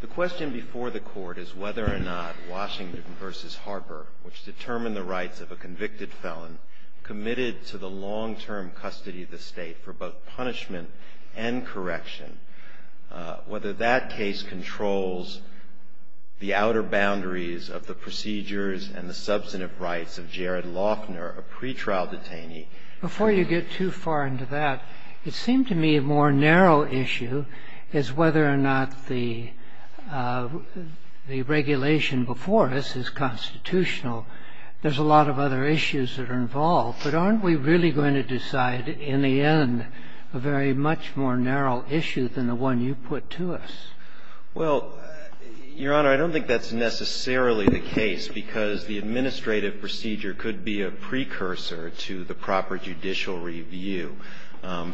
The question before the court is whether or not Washington v. Harper, which determined the rights of a convicted felon committed to the long-term custody of the state for both punishment and correction, whether that case controls the outer boundaries of the procedures and the substantive rights of Jared Loughner, a pretrial detainee. Before you get too far into that, it seemed to me a more narrow issue is whether or not the regulation before us is constitutional. There's a lot of other issues that are involved, but aren't we really going to decide in the end a very much more narrow issue than the one you put to us? Well, Your Honor, I don't think that's necessarily the case because the administrative procedure could be a precursor to the proper judicial review. I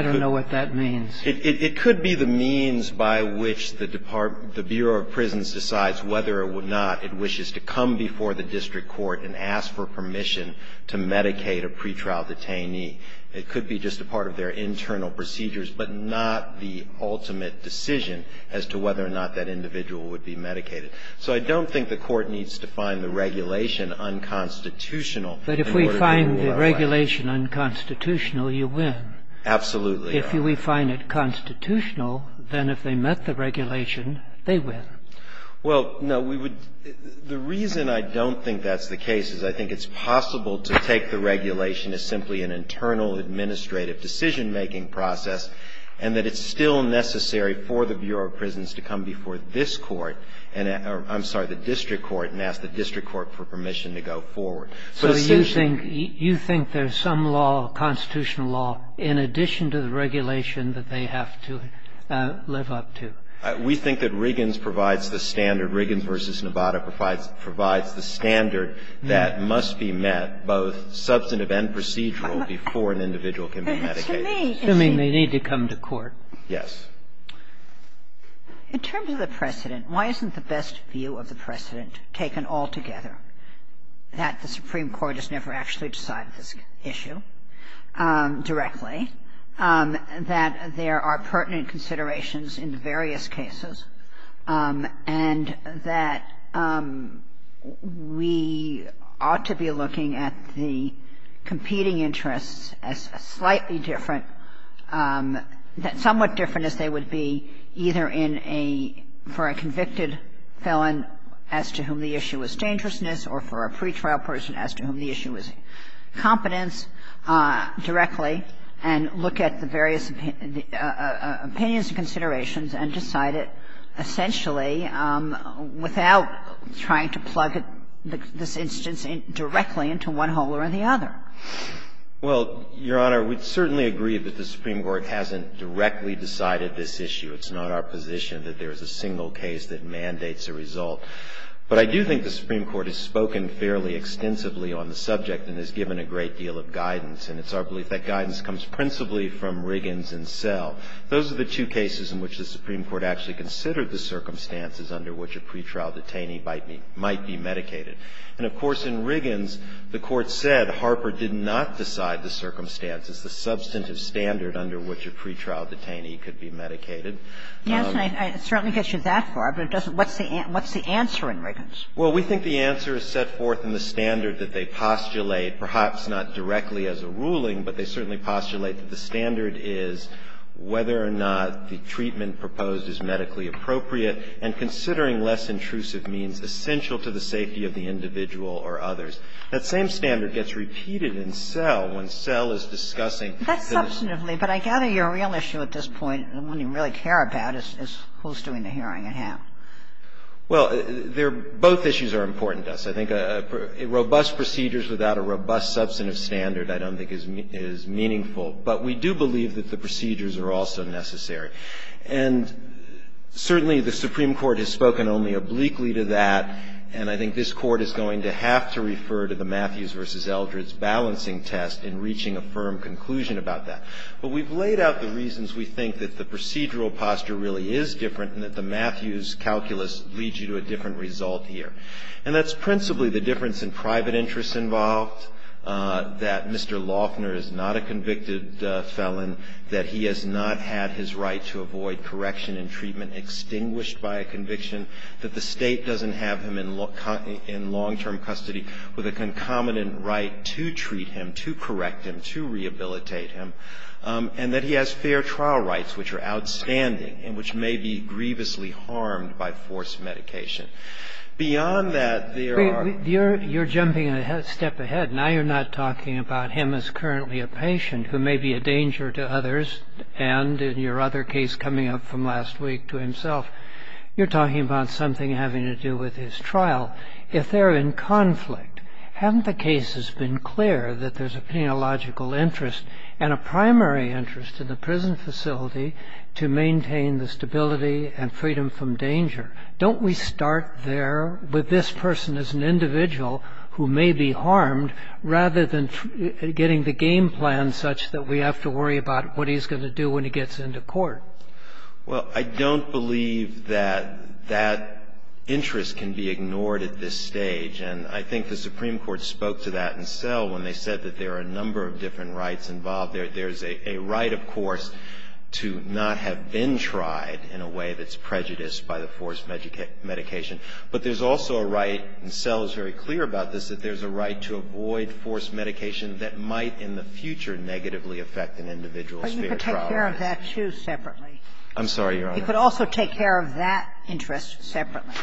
don't know what that means. It could be the means by which the Bureau of Prisons decides whether or not it wishes to come before the district court and ask for permission to medicate a pretrial detainee. It could be just a part of their internal procedures, but not the ultimate decision as to whether or not that individual would be medicated. So I don't think the court needs to find the regulation unconstitutional in order to verify it. But if we find the regulation unconstitutional, you win. Absolutely. If we find it constitutional, then if they met the regulation, they win. Well, no, we would – the reason I don't think that's the case is I think it's possible to take the regulation as simply an internal administrative decision-making process and that it's still necessary for the Bureau of Prisons to come before this court – I'm sorry, the district court – and ask the district court for permission to go forward. So you think there's some law, constitutional law, in addition to the regulation that they have to live up to? We think that Riggins provides the standard. Riggins v. Nevada provides the standard that must be met, both substantive and procedural, before an individual can be medicated. Assuming they need to come to court. Yes. In terms of the precedent, why isn't the best view of the precedent taken altogether, that the Supreme Court has never actually decided this issue directly, that there are pertinent considerations in various cases, and that we ought to be looking at the competing interests as slightly different – somewhat different as they would be either for a convicted felon as to whom the issue was dangerousness or for a pretrial person as to whom the issue was competence, directly, and look at the various opinions, considerations, and decide it essentially without trying to plug this instance directly into one hole or the other? Well, Your Honor, we certainly agree that the Supreme Court hasn't directly decided this issue. It's not our position that there's a single case that mandates a result. But I do think the Supreme Court has spoken fairly extensively on the subject and has given a great deal of guidance, and it's our belief that guidance comes principally from Riggins and Sell. Those are the two cases in which the Supreme Court actually considered the circumstances under which a pretrial detainee might be medicated. And, of course, in Riggins, the Court said Harper did not decide the circumstances, the substantive standard under which a pretrial detainee could be medicated. Yes, and it certainly gets you that far, but what's the answer in Riggins? Well, we think the answer is set forth in the standard that they postulate, perhaps not directly as a ruling, but they certainly postulate that the standard is whether or not the treatment proposed is medically appropriate and considering less intrusive means essential to the safety of the individual or others. That same standard gets repeated in Sell when Sell is discussing this. But I gather your real issue at this point, the one you really care about, is who's doing the hearing and how. Well, both issues are important to us. I think robust procedures without a robust substantive standard I don't think is meaningful, but we do believe that the procedures are also necessary. And certainly the Supreme Court has spoken only obliquely to that, and I think this Court is going to have to refer to the Matthews v. Eldridge balancing test in reaching a firm conclusion about that. But we've laid out the reasons we think that the procedural posture really is different and that the Matthews calculus leads you to a different result here. And that's principally the difference in private interests involved, that Mr. Laughner is not a convicted felon, that he has not had his right to avoid correction and treatment extinguished by a conviction, that the state doesn't have him in long-term custody with a concomitant right to treat him, to correct him, to rehabilitate him, and that he has fair trial rights which are outstanding and which may be grievously harmed by forced medication. Beyond that, there are... You're jumping a step ahead. Now you're not talking about him as currently a patient who may be a danger to others and, in your other case coming up from last week, to himself. You're talking about something having to do with his trial. If they're in conflict, haven't the cases been clear that there's a penological interest and a primary interest in the prison facility to maintain the stability and freedom from danger? Don't we start there with this person as an individual who may be harmed rather than getting the game plan such that we have to worry about what he's going to do when he gets into court? Well, I don't believe that that interest can be ignored at this stage, and I think the Supreme Court spoke to that in Selle when they said that there are a number of different rights involved. There's a right, of course, to not have been tried in a way that's prejudiced by the forced medication, but there's also a right, and Selle is very clear about this, that there's a right to avoid forced medication that might in the future negatively affect an individual's fair trial rights. You could take care of that, too, separately. I'm sorry, Your Honor. You could also take care of that interest separately.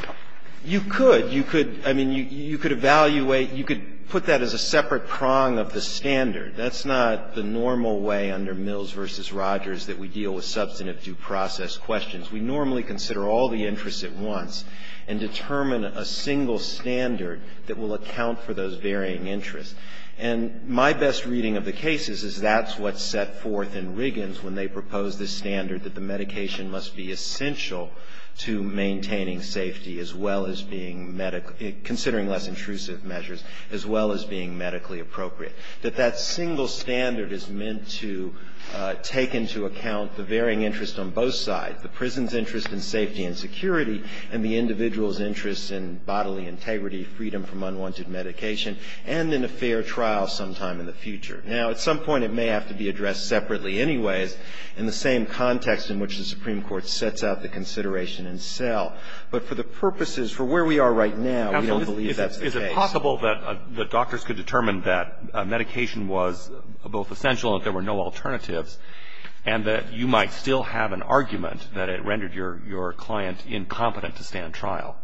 You could. You could, I mean, you could evaluate, you could put that as a separate prong of the standard. That's not the normal way under Mills v. Rogers that we deal with substantive due process questions. We normally consider all the interests at once and determine a single standard that will account for those varying interests. And my best reading of the cases is that's what's set forth in Riggins when they propose the standard that the medication must be essential to maintaining safety as well as being, considering less intrusive measures, as well as being medically appropriate, that that single standard is meant to take into account the varying interests on both sides, the prison's interest in safety and security and the individual's interest in bodily integrity, freedom from unwanted medication, and in a fair trial sometime in the future. Now, at some point, it may have to be addressed separately anyways, in the same context in which the Supreme Court sets out the consideration itself. But for the purposes, for where we are right now, we don't believe that's the case. Is it possible that doctors could determine that medication was both essential and that there were no alternatives and that you might still have an argument that it rendered your client incompetent to stand trial?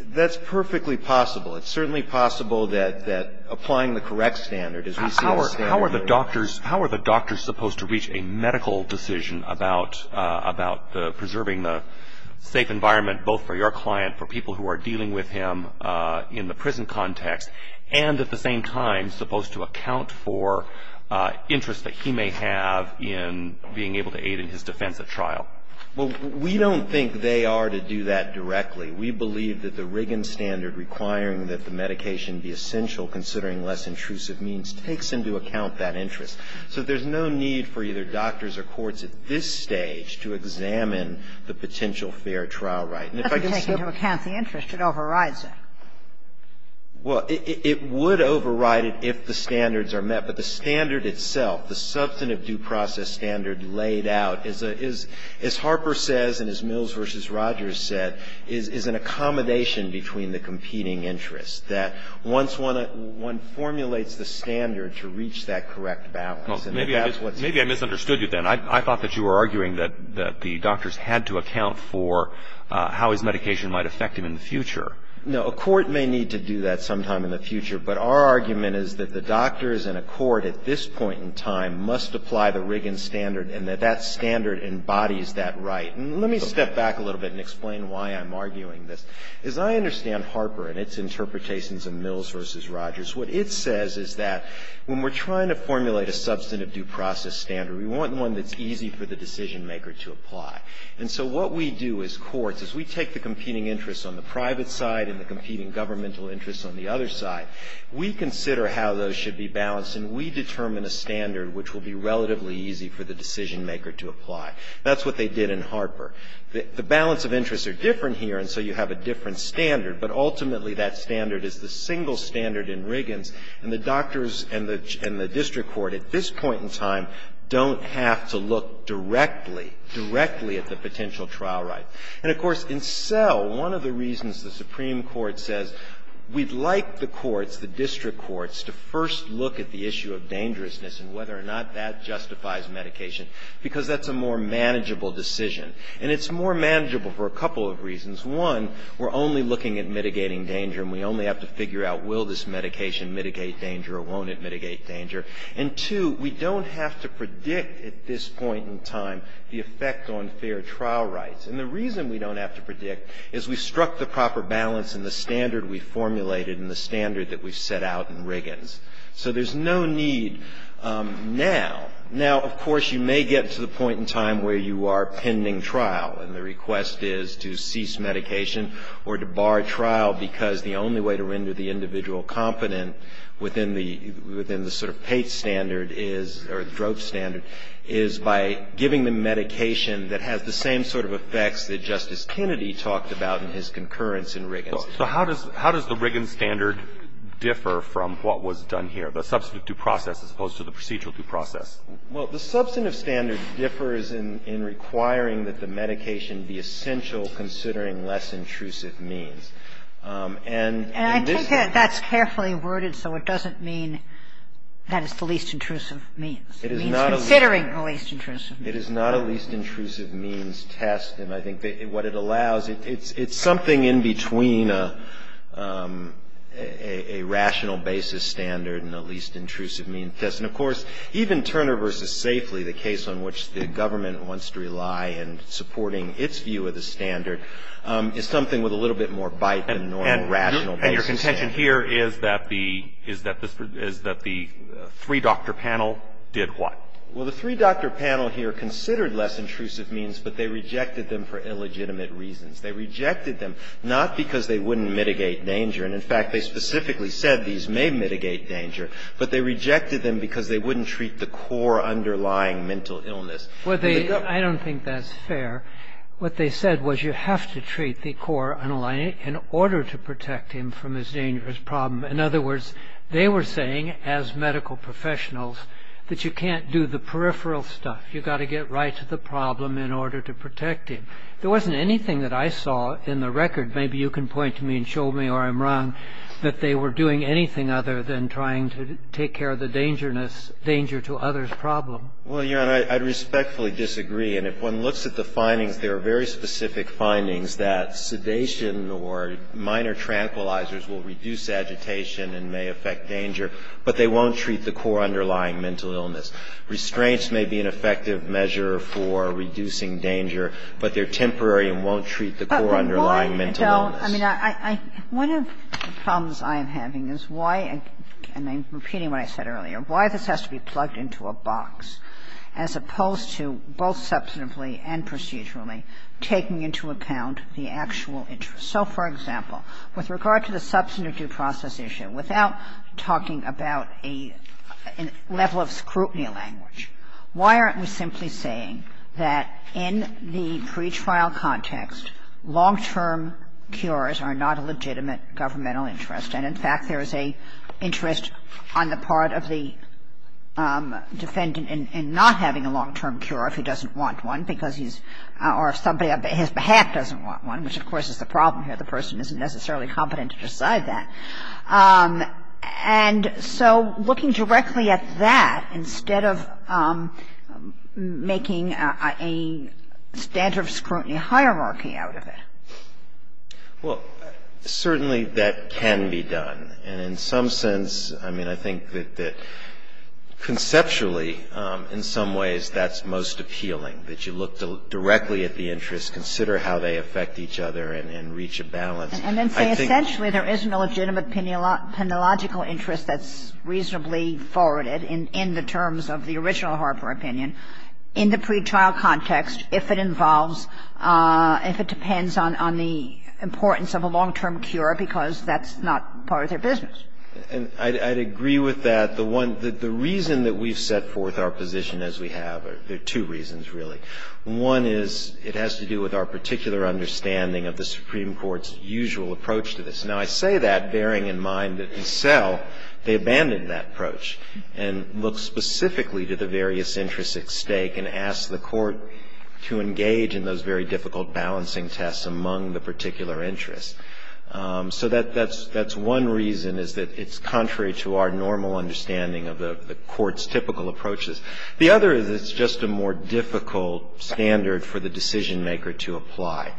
That's perfectly possible. It's certainly possible that applying the correct standard as we see in this case. How are the doctors supposed to reach a medical decision about preserving the safe environment both for your client, for people who are dealing with him in the prison context, and at the same time supposed to account for interests that he may have in being able to aid in his defense at trial? Well, we don't think they are to do that directly. We believe that the Riggins standard requiring that the medication be essential, considering less intrusive means, takes into account that interest. So there's no need for either doctors or courts at this stage to examine the potential fair trial right. It doesn't take into account the interest. It overrides it. Well, it would override it if the standards are met. But the standard itself, the substantive due process standard laid out, as Harper says and as Mills versus Rogers said, is an accommodation between the competing interests, that once one formulates the standard to reach that correct balance. Maybe I misunderstood you then. I thought that you were arguing that the doctors had to account for how his medication might affect him in the future. No, a court may need to do that sometime in the future, but our argument is that the doctors and a court at this point in time must apply the Riggins standard and that that standard embodies that right. Let me step back a little bit and explain why I'm arguing this. As I understand Harper and its interpretations of Mills versus Rogers, what it says is that when we're trying to formulate a substantive due process standard, we want one that's easy for the decisionmaker to apply. And so what we do as courts is we take the competing interests on the private side and the competing governmental interests on the other side. We consider how those should be balanced and we determine a standard which will be relatively easy for the decisionmaker to apply. That's what they did in Harper. The balance of interests are different here and so you have a different standard, but ultimately that standard is the single standard in Riggins and the doctors and the district court at this point in time don't have to look directly, directly at the potential trial right. And of course in Sell, one of the reasons the Supreme Court says we'd like the courts, the district courts to first look at the issue of dangerousness and whether or not that justifies medication because that's a more manageable decision. And it's more manageable for a couple of reasons. One, we're only looking at mitigating danger and we only have to figure out will this medication mitigate danger or won't it mitigate danger. And two, we don't have to predict at this point in time the effect on fair trial rights. And the reason we don't have to predict is we struck the proper balance in the standard we formulated and the standard that we set out in Riggins. So there's no need now. Now, of course, you may get to the point in time where you are pending trial and the request is to cease medication or to bar trial because the only way to render the individual competent within the sort of PATE standard is, or the drug standard, is by giving them medication that has the same sort of effects that Justice Kennedy talked about in his concurrence in Riggins. So how does the Riggins standard differ from what was done here, the substantive due process as opposed to the procedural due process? Well, the substantive standard differs in requiring that the medication be essential considering less intrusive means. And I think that's carefully worded so it doesn't mean that it's the least intrusive means. It is not a least intrusive means test. And I think what it allows, it's something in between a rational basis standard and a least intrusive means test. And, of course, even Turner v. Safely, the case on which the government wants to rely in supporting its view of the standard, is something with a little bit more bite than normal rational basis standards. And here is that the three-doctor panel did what? Well, the three-doctor panel here considered less intrusive means, but they rejected them for illegitimate reasons. They rejected them not because they wouldn't mitigate danger. And, in fact, they specifically said these may mitigate danger, but they rejected them because they wouldn't treat the core underlying mental illness. I don't think that's fair. What they said was you have to treat the core underlying in order to protect him from this dangerous problem. In other words, they were saying, as medical professionals, that you can't do the peripheral stuff. You've got to get right to the problem in order to protect him. There wasn't anything that I saw in the record, maybe you can point to me and show me or I'm wrong, that they were doing anything other than trying to take care of the danger to others problem. Well, you know, I respectfully disagree. And if one looks at the findings, there are very specific findings that sedation or minor tranquilizers will reduce agitation and may affect danger, but they won't treat the core underlying mental illness. Restraints may be an effective measure for reducing danger, but they're temporary and won't treat the core underlying mental illness. One of the problems I am having is why, and I'm repeating what I said earlier, why this has to be plugged into a box as opposed to both substantively and procedurally taking into account the actual interest. So, for example, with regard to the substantive due process issue, without talking about a level of scrutiny language, why aren't we simply saying that in the pretrial context, long-term cures are not a legitimate governmental interest, and, in fact, there is an interest on the part of the defendant in not having a long-term cure if he doesn't want one because he's or somebody on his behalf doesn't want one, which, of course, is a problem here. The person isn't necessarily competent to decide that. And so looking directly at that instead of making a standard of scrutiny hierarchy out of it. Well, certainly that can be done. And in some sense, I mean, I think that conceptually, in some ways, that's most appealing, that you look directly at the interests, consider how they affect each other, and reach a balance. And then, essentially, there is no legitimate penological interest that's reasonably forwarded in the terms of the original Harper opinion. In the pretrial context, if it involves, if it depends on the importance of a long-term cure because that's not part of their business. And I'd agree with that. The reason that we've set forth our position as we have, there are two reasons, really. One is it has to do with our particular understanding of the Supreme Court's usual approach to this. Now, I say that bearing in mind that in cell, they abandoned that approach and looked specifically to the various interests at stake and asked the court to engage in those very difficult balancing tests among the particular interests. So that's one reason is that it's contrary to our normal understanding of the court's typical approaches. The other is it's just a more difficult standard for the decision maker to apply.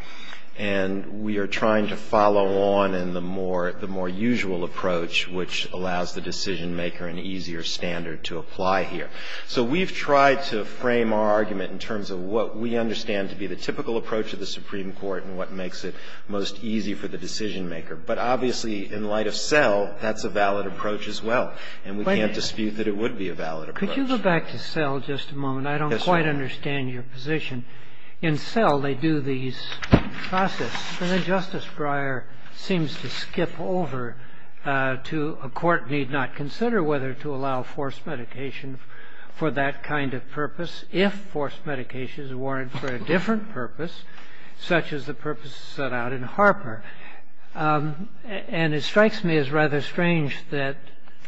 And we are trying to follow on in the more usual approach, which allows the decision maker an easier standard to apply here. So we've tried to frame our argument in terms of what we understand to be the typical approach of the Supreme Court and what makes it most easy for the decision maker. But obviously, in light of cell, that's a valid approach as well. And we can't dispute that it would be a valid approach. Could you go back to cell just a moment? I don't quite understand your position. In cell, they do these processes. And then Justice Breyer seems to skip over to a court need not consider whether to allow forced medication for that kind of purpose if forced medication is warranted for a different purpose, such as the purpose set out in Harper. And it strikes me as rather strange that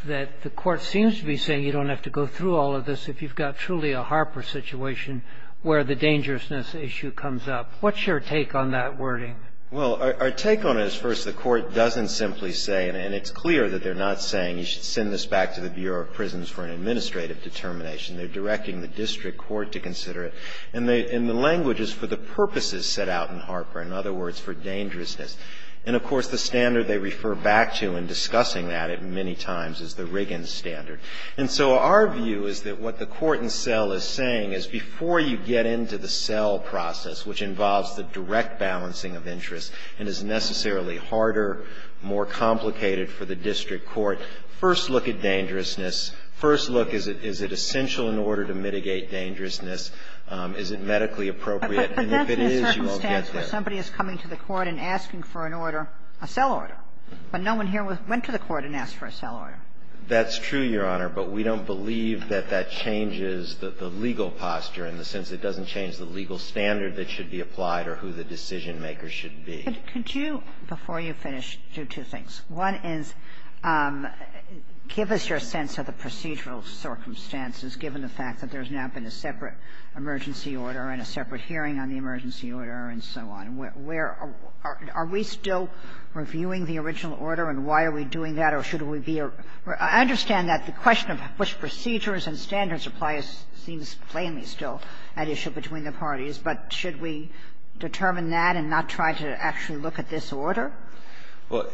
the court seems to be saying you don't have to go through all of this if you've got truly a Harper situation where the dangerousness issue comes up. What's your take on that wording? Well, our take on it is first the court doesn't simply say, and it's clear that they're not saying you should send this back to the Bureau of Prisons for an administrative determination. They're directing the district court to consider it. And the language is for the purposes set out in Harper, in other words, for dangerousness. And, of course, the standard they refer back to in discussing that many times is the Riggins standard. And so our view is that what the court in cell is saying is before you get into the cell process, which involves the direct balancing of interests and is necessarily harder, more complicated for the district court, first look at dangerousness. First look, is it essential in order to mitigate dangerousness? Is it medically appropriate? And if it is, you won't get there. But that's the circumstance that somebody is coming to the court and asking for an order, a cell order. But no one here went to the court and asked for a cell order. That's true, Your Honor. But we don't believe that that changes the legal posture in the sense that it doesn't change the legal standard that should be applied or who the decision-makers should be. Could you, before you finish, do two things. One is give us your sense of the procedural circumstances, given the fact that there's now been a separate emergency order and a separate hearing on the emergency order and so on. Are we still reviewing the original order and why are we doing that or should we be? I understand that the question of which procedures and standards apply seems plainly still an issue between the parties, but should we determine that and not try to actually look at this order? Well,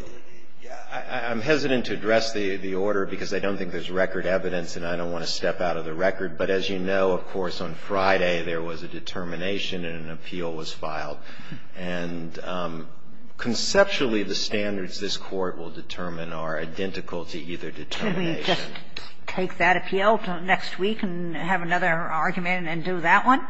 I'm hesitant to address the order because I don't think there's record evidence and I don't want to step out of the record, but as you know, of course, on Friday there was a determination and an appeal was filed. And conceptually, the standards this court will determine are identical to either determination. Can we just take that appeal until next week and have another argument and do that one?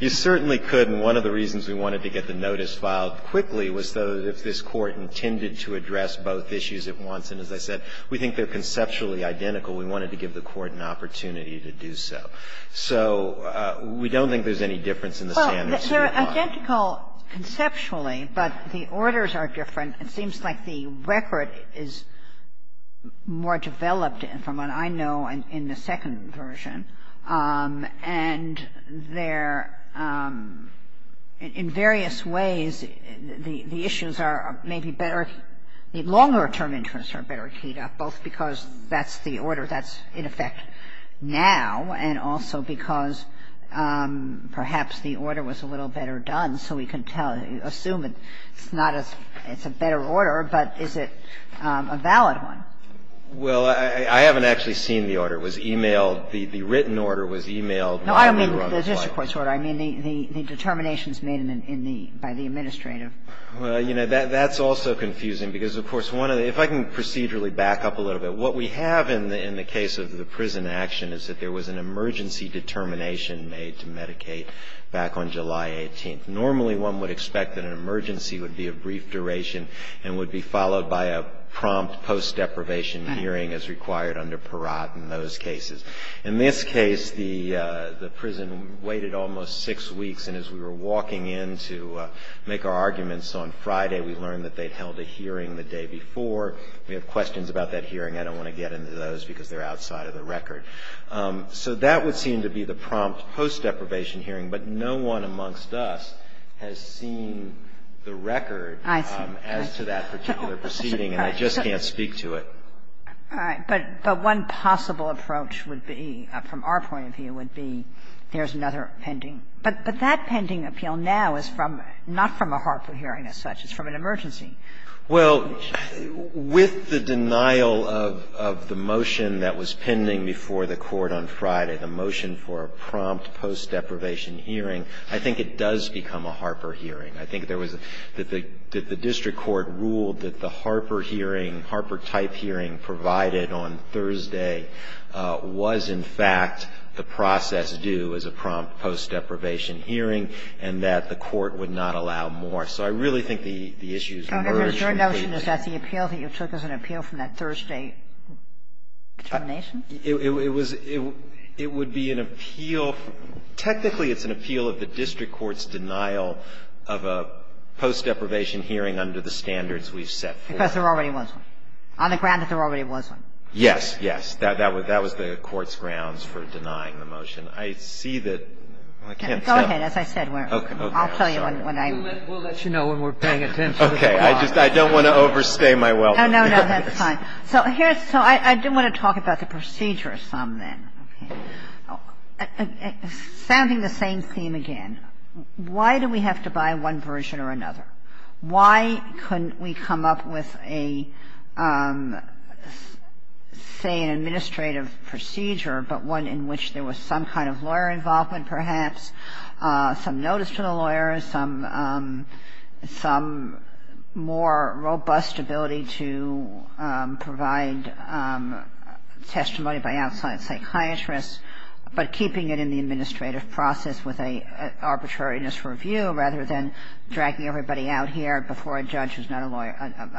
You certainly could, and one of the reasons we wanted to get the notice filed quickly was so that if this court intended to address both issues at once, and as I said, we think they're conceptually identical, we wanted to give the court an opportunity to do so. So we don't think there's any difference in the standards. Well, they're identical conceptually, but the orders are different. It seems like the record is more developed from what I know in the second version. And in various ways, the issues are maybe better, the longer term interests are better both because that's the order that's in effect now and also because perhaps the order was a little better done, so we can assume it's a better order, but is it a valid one? Well, I haven't actually seen the order. It was emailed. The written order was emailed. No, I don't mean the district court's order. I mean the determinations made by the administrative. Well, you know, that's also confusing because, of course, if I can procedurally back up a little bit, what we have in the case of the prison action is that there was an emergency determination made to Medicaid back on July 18th. Normally, one would expect that an emergency would be a brief duration and would be followed by a prompt post-deprivation hearing as required under PEROT in those cases. In this case, the prison waited almost six weeks, and as we were walking in to make our arguments on Friday, we learned that they'd held a hearing the day before. We have questions about that hearing. I don't want to get into those because they're outside of the record. So that would seem to be the prompt post-deprivation hearing, but no one amongst us has seen the record as to that particular proceeding, and I just can't speak to it. All right. But one possible approach would be, from our point of view, would be there's another pending. But that pending appeal now is not from a Harper hearing as such. It's from an emergency. Well, with the denial of the motion that was pending before the Court on Friday, the motion for a prompt post-deprivation hearing, I think it does become a Harper hearing. I think that the district court ruled that the Harper hearing, Harper-type hearing provided on Thursday, was in fact the process due as a prompt post-deprivation hearing, and that the court would not allow more. So I really think the issue is emergency. Okay. Mr. Anderson, is that the appeal that you took as an appeal from that Thursday determination? It would be an appeal. Technically, it's an appeal of the district court's denial of a post-deprivation hearing under the standards we've set forth. Because there already was one, on the grounds that there already was one. Yes, yes. That was the court's grounds for denying the motion. I see that. Okay. As I said, I'll tell you when I. We'll let you know when we're paying attention. Okay. I don't want to overstay my welcome. No, no, no. That's fine. So here's. So I do want to talk about the procedure some then. Founding the same theme again. Why do we have to buy one version or another? Why couldn't we come up with a, say, an administrative procedure, but one in which there was some kind of lawyer involvement perhaps, some notice to the lawyers, some more robust ability to provide testimony by outside psychiatrists, but keeping it in the administrative process with an arbitrariness review, rather than dragging everybody out here before a judge who's not a lawyer,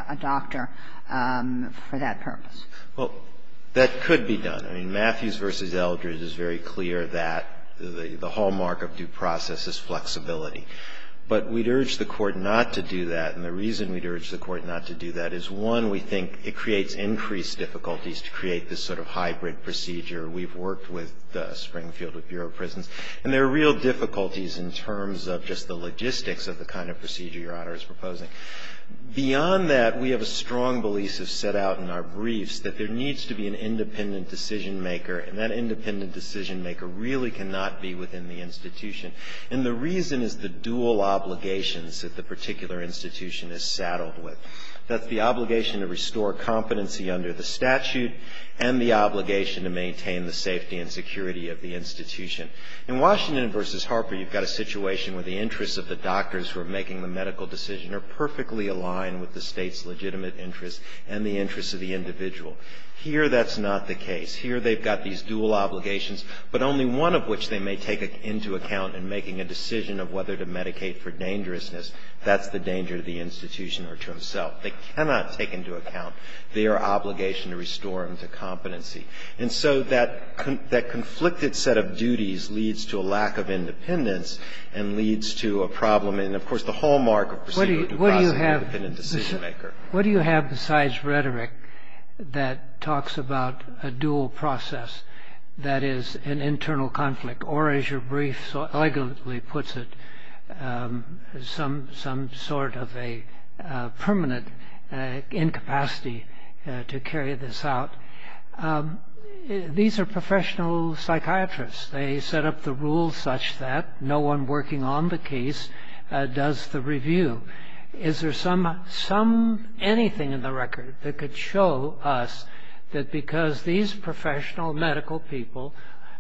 a doctor, for that purpose? Well, that could be done. I mean, Matthews v. Eldridge is very clear that the hallmark of due process is flexibility. But we'd urge the court not to do that, and the reason we'd urge the court not to do that is, one, we think it creates increased difficulties to create this sort of hybrid procedure. We've worked with Springfield, with Bureau of Prisons, and there are real difficulties in terms of just the logistics of the kind of procedure Your Honor is proposing. Beyond that, we have a strong belief that's set out in our briefs, that there needs to be an independent decision maker, and that independent decision maker really cannot be within the institution. And the reason is the dual obligations that the particular institution is saddled with. That's the obligation to restore competency under the statute, and the obligation to maintain the safety and security of the institution. In Washington v. Harper, you've got a situation where the interests of the doctors who are making the medical decision are perfectly aligned with the state's legitimate interests and the interests of the individual. Here that's not the case. Here they've got these dual obligations, but only one of which they may take into account in making a decision of whether to medicate for dangerousness. That's the danger to the institution or to himself. They cannot take into account their obligation to restore them to competency. And so that conflicted set of duties leads to a lack of independence and leads to a problem in, of course, the hallmark of proceeding to the independent decision maker. What do you have besides rhetoric that talks about a dual process that is an internal conflict, or as your brief so elegantly puts it, some sort of a permanent incapacity to carry this out? These are professional psychiatrists. They set up the rules such that no one working on the case does the review. Is there anything in the record that could show us that because these professional medical people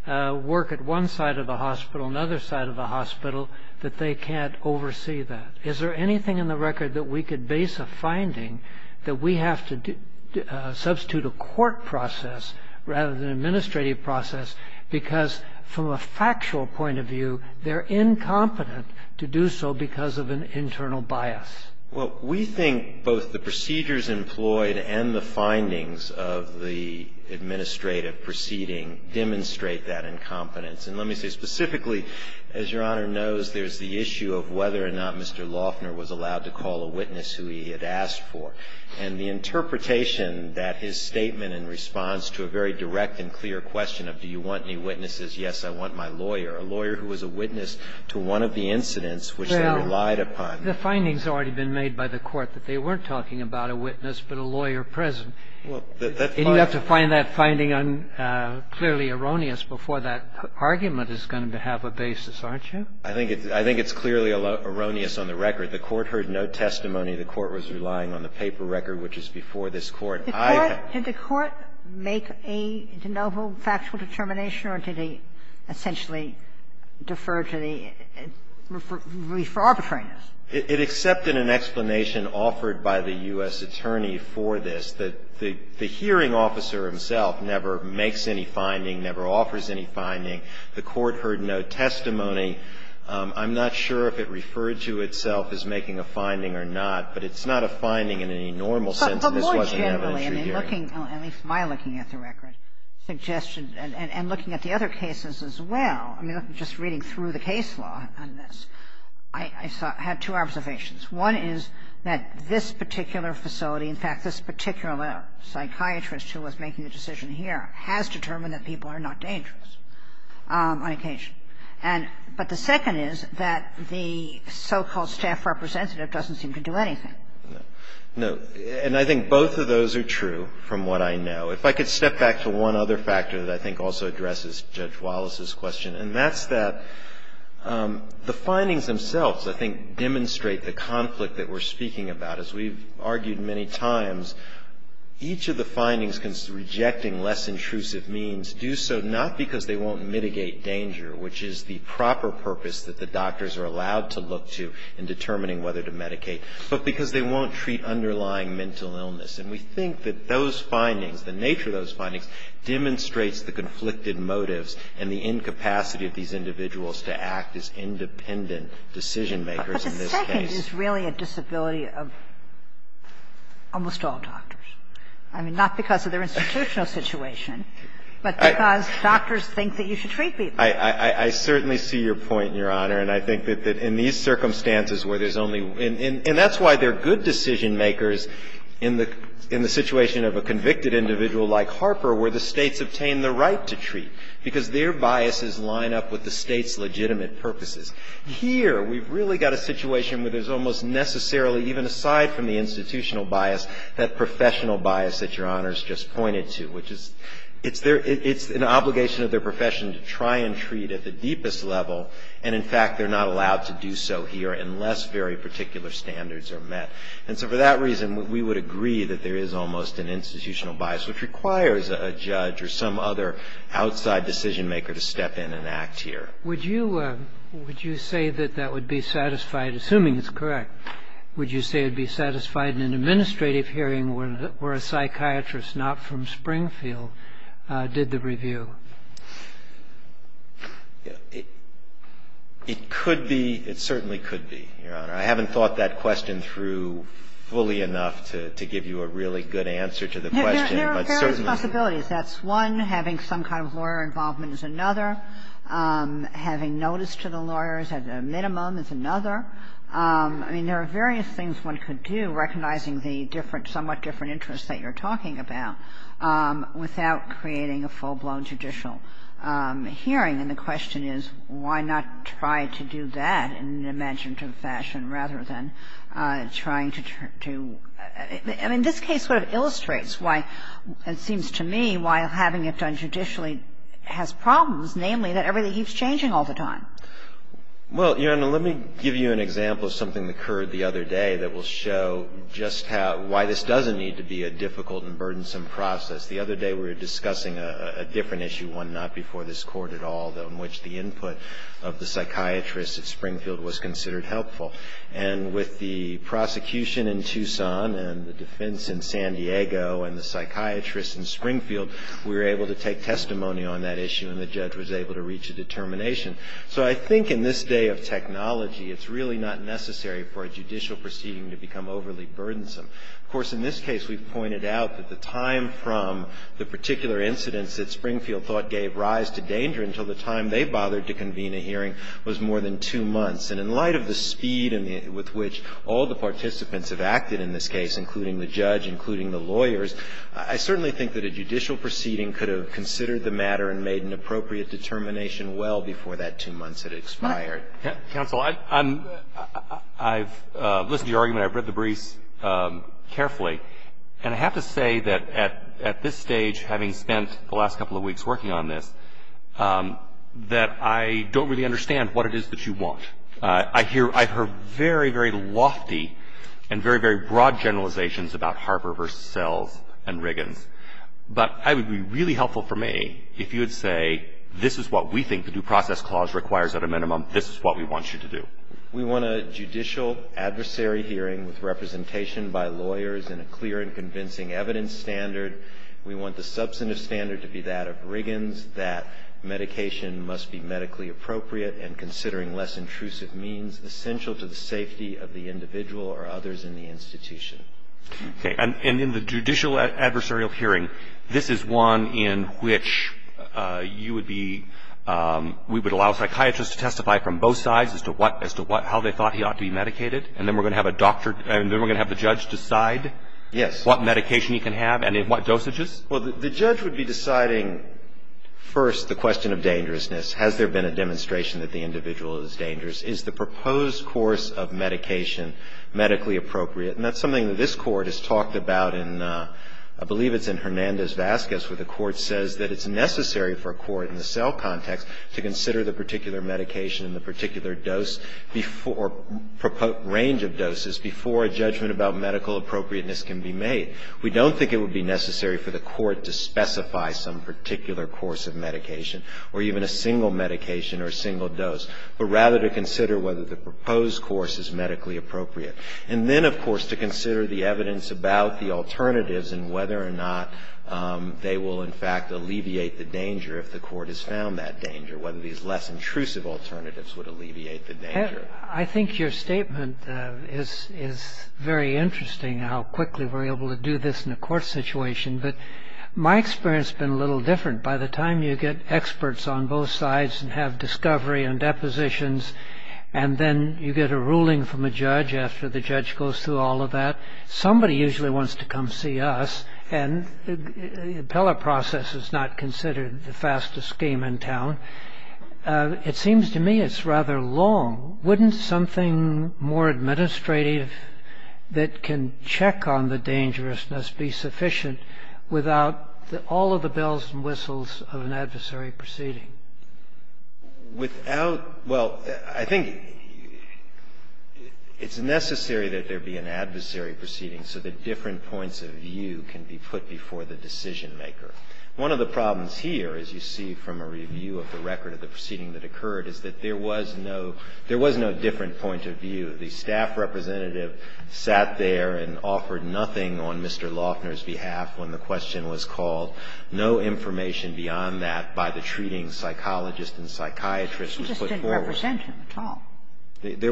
work at one side of the hospital, another side of the hospital, that they can't oversee that? Is there anything in the record that we could base a finding that we have to substitute a court process rather than an administrative process, because from a factual point of view, they're incompetent to do so because of an internal bias? Well, we think both the procedures employed and the findings of the administrative proceeding demonstrate that incompetence. And let me say specifically, as Your Honor knows, there's the issue of whether or not Mr. Loeffner was allowed to call a witness who he had asked for. And the interpretation that his statement in response to a very direct and clear question of do you want any witnesses, yes, I want my lawyer, a lawyer who was a witness to one of the incidents which they relied upon. Well, the findings have already been made by the court that they weren't talking about a witness but a lawyer present. And you have to find that finding clearly erroneous before that argument is going to have a basis, aren't you? I think it's clearly erroneous on the record. If the court heard no testimony, the court was relying on the paper record which is before this court. Did the court make a de novo factual determination or did they essentially defer to the re-for arbitration? It accepted an explanation offered by the U.S. attorney for this. The hearing officer himself never makes any finding, never offers any finding. The court heard no testimony. I'm not sure if it referred to itself as making a finding or not, but it's not a finding in any normal sense. But more generally, I mean, looking, at least my looking at the record, suggestions and looking at the other cases as well, I mean, just reading through the case law on this, I had two observations. One is that this particular facility, in fact, this particular psychiatrist who was making the decision here, has determined that people are not dangerous on occasion. But the second is that the so-called staff representative doesn't seem to do anything. No. And I think both of those are true from what I know. If I could step back to one other factor that I think also addresses Judge Wallace's question, and that's that the findings themselves, I think, demonstrate the conflict that we're speaking about. As we've argued many times, each of the findings, rejecting less intrusive means, do so not because they won't mitigate danger, which is the proper purpose that the doctors are allowed to look to in determining whether to medicate, but because they won't treat underlying mental illness. And we think that those findings, the nature of those findings, demonstrates the conflicted motives and the incapacity of these individuals to act as independent decision makers in this case. It is really a disability of almost all doctors. I mean, not because of their institutional situation, but because doctors think that you should treat people. I certainly see your point, Your Honor, and I think that in these circumstances where there's only – and that's why they're good decision makers in the situation of a convicted individual like Harper, where the states obtain the right to treat, because their biases line up with the state's legitimate purposes. Here, we've really got a situation where there's almost necessarily, even aside from the institutional bias, that professional bias that Your Honor's just pointed to, which is it's an obligation of their profession to try and treat at the deepest level, and in fact they're not allowed to do so here unless very particular standards are met. And so for that reason, we would agree that there is almost an institutional bias, which requires a judge or some other outside decision maker to step in and act here. Would you say that that would be satisfied – assuming it's correct – would you say it would be satisfied in an administrative hearing where a psychiatrist not from Springfield did the review? It could be. It certainly could be, Your Honor. I haven't thought that question through fully enough to give you a really good answer to the question. There are various possibilities. That's one. Having some kind of lawyer involvement is another. Having notice to the lawyers at a minimum is another. I mean, there are various things one could do, recognizing the somewhat different interests that you're talking about, without creating a full-blown judicial hearing. And the question is, why not try to do that in an imaginative fashion rather than trying to – I mean, this case sort of illustrates why, it seems to me, why having it done judicially has problems, namely that everything keeps changing all the time. Well, Your Honor, let me give you an example of something that occurred the other day that will show just how – why this doesn't need to be a difficult and burdensome process. The other day we were discussing a different issue, one not before this Court at all, in which the input of the psychiatrist at Springfield was considered helpful. And with the prosecution in Tucson and the defense in San Diego and the psychiatrist in Springfield, we were able to take testimony on that issue, and the judge was able to reach a determination. So I think in this day of technology, it's really not necessary for a judicial proceeding to become overly burdensome. Of course, in this case, we've pointed out that the time from the particular incidents that Springfield thought gave rise to danger until the time they bothered to convene a hearing was more than two months. And in light of the speed with which all the participants have acted in this case, including the judge, including the lawyers, I certainly think that a judicial proceeding could have considered the matter and made an appropriate determination well before that two months had expired. Counsel, I've listened to your argument. I've read the brief carefully. And I have to say that at this stage, having spent the last couple of weeks working on this, that I don't really understand what it is that you want. I've heard very, very lofty and very, very broad generalizations about Harper v. Sells and Riggins. But it would be really helpful for me if you would say, this is what we think the Due Process Clause requires at a minimum, this is what we want you to do. We want a judicial adversary hearing with representation by lawyers and a clear and convincing evidence standard. We want the substantive standard to be that of Riggins, that medication must be medically appropriate and considering less intrusive means essential to the safety of the individual or others in the institution. Okay. And in the judicial adversarial hearing, this is one in which you would be, we would allow psychiatrists to testify from both sides as to how they thought he ought to be medicated, and then we're going to have a doctor, and then we're going to have the judge decide what medication he can have and in what dosages? Well, the judge would be deciding, first, the question of dangerousness. Has there been a demonstration that the individual is dangerous? Is the proposed course of medication medically appropriate? And that's something that this Court has talked about in, I believe it's in Hernandez-Vasquez, where the Court says that it's necessary for a court in the sell context to consider the particular medication and the particular dose or range of doses before a judgment about medical appropriateness can be made. We don't think it would be necessary for the court to specify some particular course of medication or even a single medication or a single dose, but rather to consider whether the proposed course is medically appropriate. And then, of course, to consider the evidence about the alternatives and whether or not they will, in fact, alleviate the danger if the court has found that danger, I think your statement is very interesting, how quickly we're able to do this in a court situation, but my experience has been a little different. By the time you get experts on both sides and have discovery and depositions and then you get a ruling from a judge after the judge goes through all of that, somebody usually wants to come see us, and the appellate process is not considered the fastest game in town. It seems to me it's rather long. Wouldn't something more administrative that can check on the dangerousness be sufficient without all of the bells and whistles of an adversary proceeding? Without, well, I think it's necessary that there be an adversary proceeding so that different points of view can be put before the decision maker. One of the problems here, as you see from a review of the record of the proceeding that occurred, is that there was no different point of view. The staff representative sat there and offered nothing on Mr. Loughner's behalf when the question was called. No information beyond that by the treating psychologist and psychiatrist was put forward. He just didn't represent you at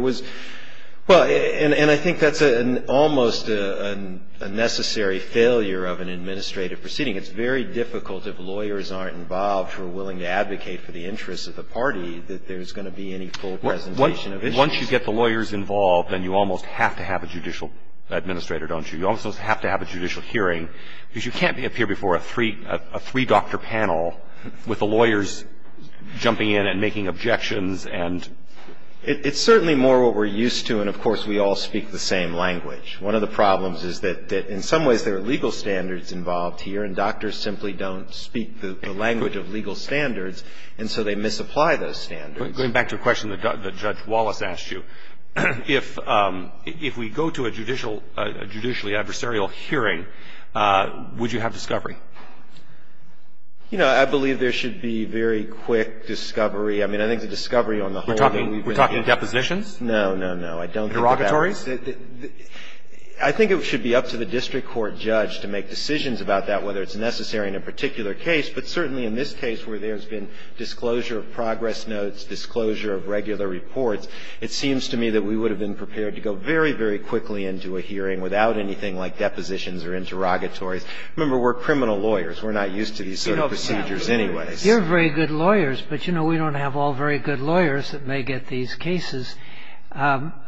all. And I think that's almost a necessary failure of an administrative proceeding. It's very difficult if lawyers aren't involved who are willing to advocate for the interests of the party that there's going to be any full presentation of issues. Once you get the lawyers involved, then you almost have to have a judicial administrator, don't you? You almost have to have a judicial hearing because you can't appear before a three-doctor panel with the lawyers jumping in and making objections. It's certainly more what we're used to, and, of course, we all speak the same language. One of the problems is that, in some ways, there are legal standards involved here, and doctors simply don't speak the language of legal standards, and so they misapply those standards. Going back to your question that Judge Wallace asked you, if we go to a judicially adversarial hearing, would you have discovery? You know, I believe there should be very quick discovery. I mean, I think the discovery on the whole... We're talking depositions? No, no, no. Interrogatories? I think it should be up to the district court judge to make decisions about that, whether it's necessary in a particular case, but certainly in this case where there's been disclosure of progress notes, disclosure of regular reports, it seems to me that we would have been prepared to go very, very quickly into a hearing without anything like depositions or interrogatories. Remember, we're criminal lawyers. We're not used to these sort of procedures anyway. You're very good lawyers, but, you know, we don't have all very good lawyers that may get these cases.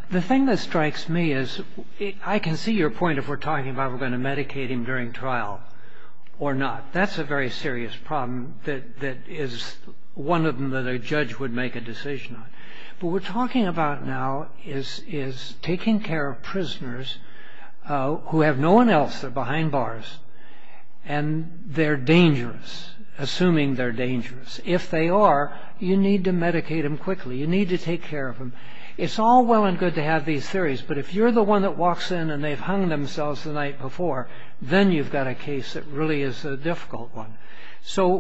The thing that strikes me is... I can see your point if we're talking about we're going to medicate him during trial or not. That's a very serious problem that is one of them that a judge would make a decision on. What we're talking about now is taking care of prisoners who have no one else but behind bars and they're dangerous, assuming they're dangerous. If they are, you need to medicate them quickly. You need to take care of them. It's all well and good to have these theories, but if you're the one that walks in and they've hung themselves the night before, then you've got a case that really is a difficult one. So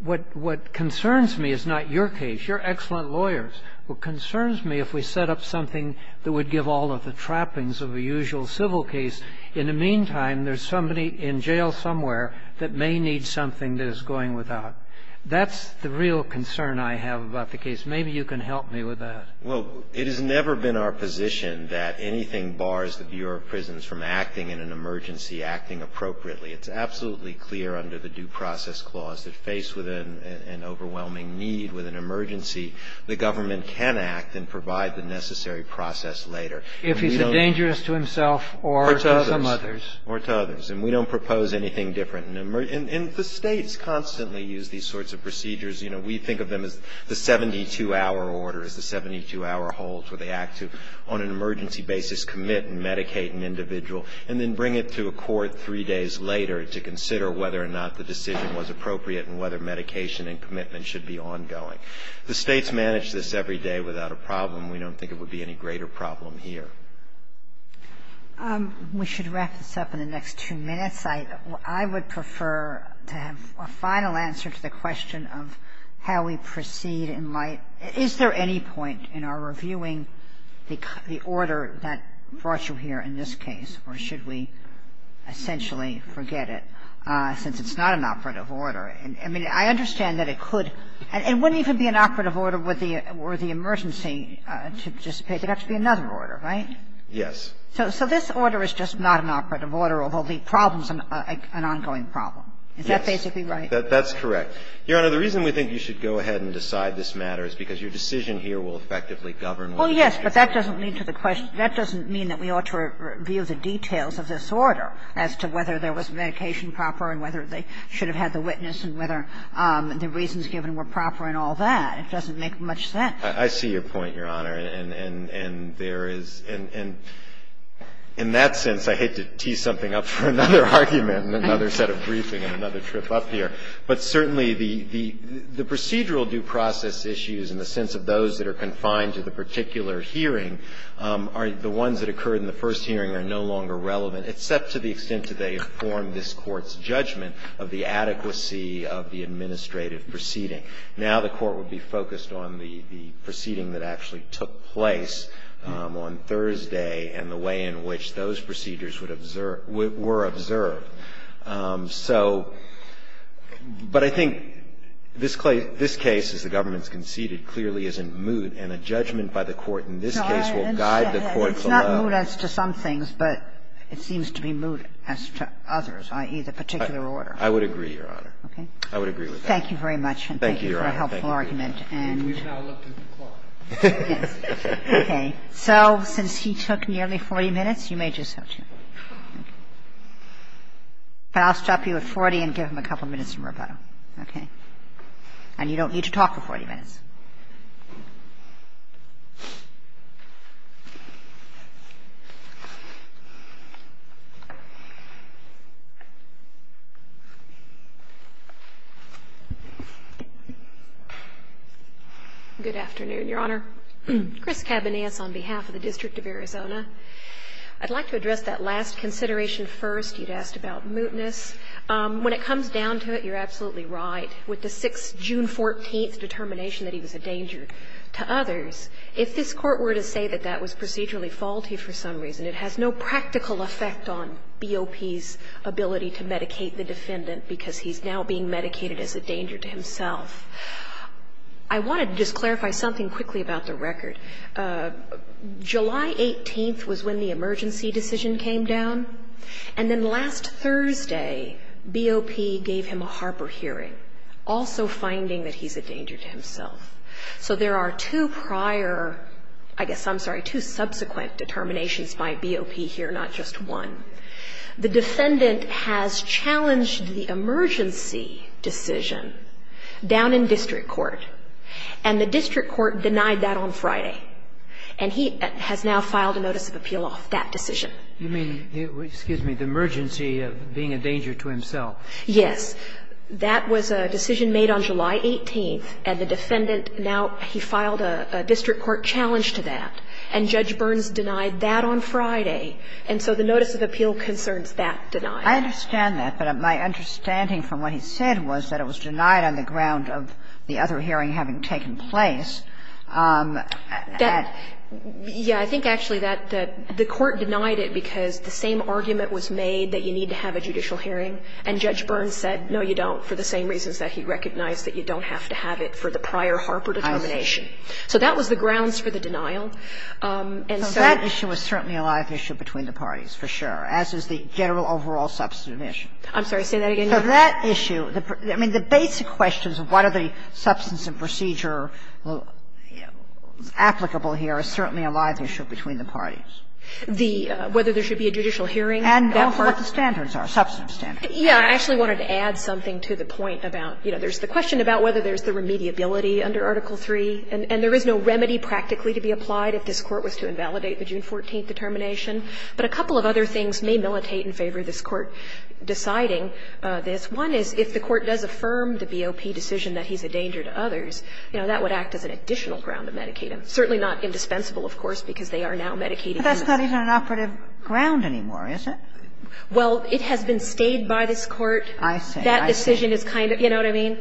what concerns me is not your case. You're excellent lawyers. What concerns me, if we set up something that would give all of the trappings of a usual civil case, in the meantime, there's somebody in jail somewhere that may need something that is going without. That's the real concern I have about the case. Maybe you can help me with that. Well, it has never been our position that anything bars the Bureau of Prisons from acting in an emergency, acting appropriately. It's absolutely clear under the Due Process Clause that faced with an overwhelming need, with an emergency, the government can act and provide the necessary process later. If he's dangerous to himself or to others. Or to others. And we don't propose anything different. And the states constantly use these sorts of procedures. You know, we think of them as the 72-hour orders, the 72-hour holds, where they act to, on an emergency basis, commit and medicate an individual and then bring it to a court three days later to consider whether or not the decision was appropriate and whether medication and commitment should be ongoing. The states manage this every day without a problem. We don't think it would be any greater problem here. We should wrap this up in the next two minutes. Yes, I would prefer to have a final answer to the question of how we proceed in light Is there any point in our reviewing the order that brought you here in this case or should we essentially forget it since it's not an operative order? I mean, I understand that it could. It wouldn't even be an operative order with the emergency to participate. It would have to be another order, right? Yes. So this order is just not an operative order, although the problem is an ongoing problem. Is that basically right? That's correct. Your Honor, the reason we think you should go ahead and decide this matter is because your decision here will effectively govern what's happening. Well, yes, but that doesn't mean that we ought to review the details of this order as to whether there was medication proper and whether they should have had the witness and whether the reasons given were proper and all that. It doesn't make much sense. I see your point, Your Honor. In that sense, I hate to tee something up for another argument and another set of briefing and another trip up here, but certainly the procedural due process issues in the sense of those that are confined to the particular hearing are the ones that occurred in the first hearing and are no longer relevant except to the extent that they form this Court's judgment of the adequacy of the administrative proceeding. Now the Court will be focused on the proceeding that actually took place on Thursday and the way in which those procedures were observed. So, but I think this case, as the government's conceded, clearly is in mood, and a judgment by the Court in this case will guide the Court below. It's not mood as to some things, but it seems to be mood as to others, i.e., the particular order. I would agree, Your Honor. Okay. I would agree with that. Thank you very much. Thank you, Your Honor. Thank you for a helpful argument. We've now left the Court. Okay. So, since he took nearly 40 minutes, you may just have to... But I'll stop you at 40 and give him a couple minutes to work on it. Okay. And you don't need to talk for 40 minutes. Good afternoon, Your Honor. Chris Cabanillas on behalf of the District of Arizona. I'd like to address that last consideration first. You've asked about mootness. When it comes down to it, you're absolutely right. With the 6th, June 14th determination that he was a danger to others, if this Court were to say that that was procedurally faulty for some reason, it has no practical effect on BOP's ability to medicate the defendant because he's now being medicated as a danger to himself. I wanted to just clarify something quickly about the record. July 18th was when the emergency decision came down. And then last Thursday, BOP gave him a Harper hearing, also finding that he's a danger to himself. So there are two prior, I guess I'm sorry, two subsequent determinations by BOP here, not just one. The defendant has challenged the emergency decision down in district court. And the district court denied that on Friday. And he has now filed a notice of appeal off that decision. You mean, excuse me, the emergency of being a danger to himself. Yes. That was a decision made on July 18th. And the defendant now, he filed a district court challenge to that. And Judge Burns denied that on Friday. And so the notice of appeal concerns that denial. I understand that. But my understanding from what he said was that it was denied on the ground of the other hearing having taken place. Yeah, I think actually that the court denied it because the same argument was made that you need to have a judicial hearing. And Judge Burns said, no, you don't, for the same reasons that he recognized that you don't have to have it for the prior Harper determination. So that was the grounds for the denial. So that issue is certainly a live issue between the parties, for sure, as is the general overall substantive issue. I'm sorry, say that again. So that issue, I mean, the basic questions of what are the substance and procedure applicable here is certainly a live issue between the parties. Whether there should be a judicial hearing. And what the standards are, substantive standards. Yeah, I actually wanted to add something to the point about, you know, there's the question about whether there's the remediability under Article III. And there is no remedy practically to be applied if this court was to invalidate the June 14th determination. But a couple of other things may militate in favor of this court deciding this. One is if the court does affirm the BOP decision that he's a danger to others, you know, that would act as an additional ground of medicated. Certainly not indispensable, of course, because they are now medicated. But that's not even an operative ground anymore, is it? Well, it has been stayed by this court. I see. That decision is kind of, you know what I mean?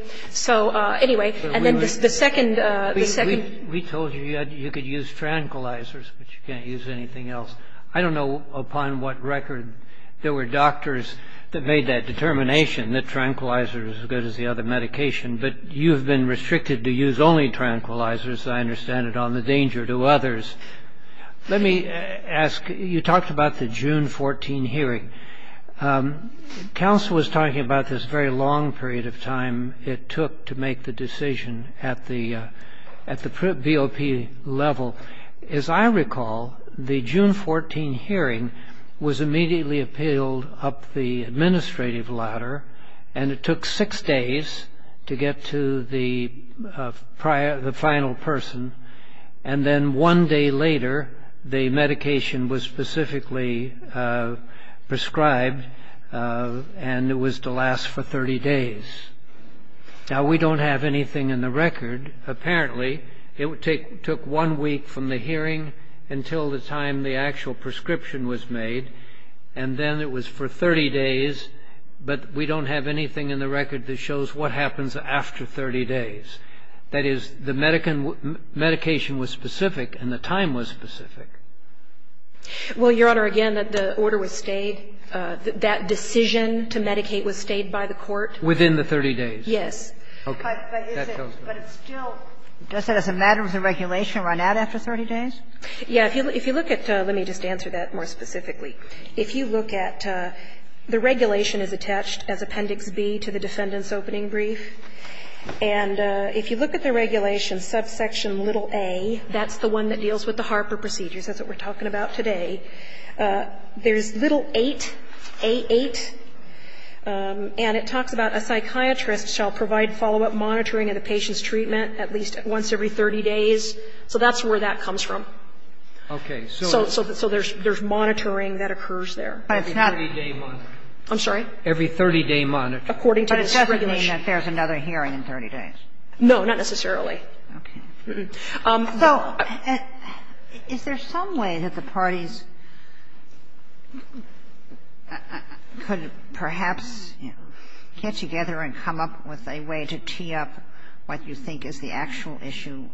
We told you you could use tranquilizers, but you can't use anything else. I don't know upon what record there were doctors that made that determination that tranquilizer was as good as the other medication. But you've been restricted to use only tranquilizers, I understand, on the danger to others. Let me ask, you talked about the June 14th hearing. Counsel was talking about this very long period of time it took to make the decision at the BOP level. As I recall, the June 14th hearing was immediately appealed up the administrative ladder, and it took six days to get to the final person. And then one day later, the medication was specifically prescribed, and it was to last for 30 days. Now, we don't have anything in the record. Apparently, it took one week from the hearing until the time the actual prescription was made, and then it was for 30 days, but we don't have anything in the record that shows what happens after 30 days. That is, the medication was specific and the time was specific. Well, Your Honor, again, the order was stayed. That decision to medicate was stayed by the court. Within the 30 days? Yes. Okay. Does that as a matter of regulation run out after 30 days? Yes. If you look at, let me just answer that more specifically. If you look at, the regulation is attached as Appendix B to the defendant's opening brief, and if you look at the regulation, subsection little a, that's the one that deals with the Harper procedures, that's what we're talking about today. There's little 8, A8, and it talks about a psychiatrist shall provide follow-up monitoring of the patient's treatment at least once every 30 days. So that's where that comes from. Okay. So there's monitoring that occurs there. Every 30-day monitoring. I'm sorry? Every 30-day monitoring. But it doesn't mean that there's another hearing in 30 days? No, not necessarily. Okay. So is there some way that the parties could perhaps get together and come up with a way to tee up what you think is the actual issue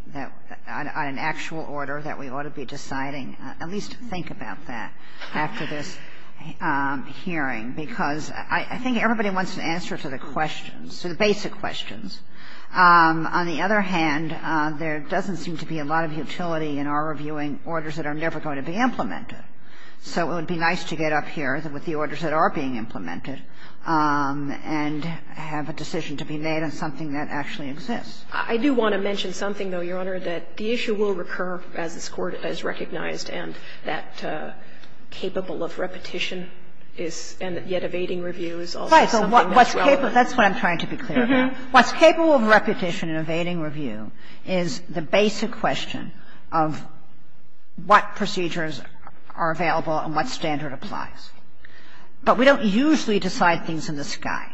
on an actual order that we ought to be deciding? At least think about that after this hearing, because I think everybody wants an answer to the questions, to the basic questions. On the other hand, there doesn't seem to be a lot of utility in our reviewing orders that are never going to be implemented. So it would be nice to get up here with the orders that are being implemented and have a decision to be made on something that actually exists. I do want to mention something, though, Your Honor, that the issue will recur as recognized and that capable of repetition is, and yet evading review is also. That's what I'm trying to be clear about. What's capable of repetition and evading review is the basic question of what procedures are available and what standard applies. But we don't usually decide things in the sky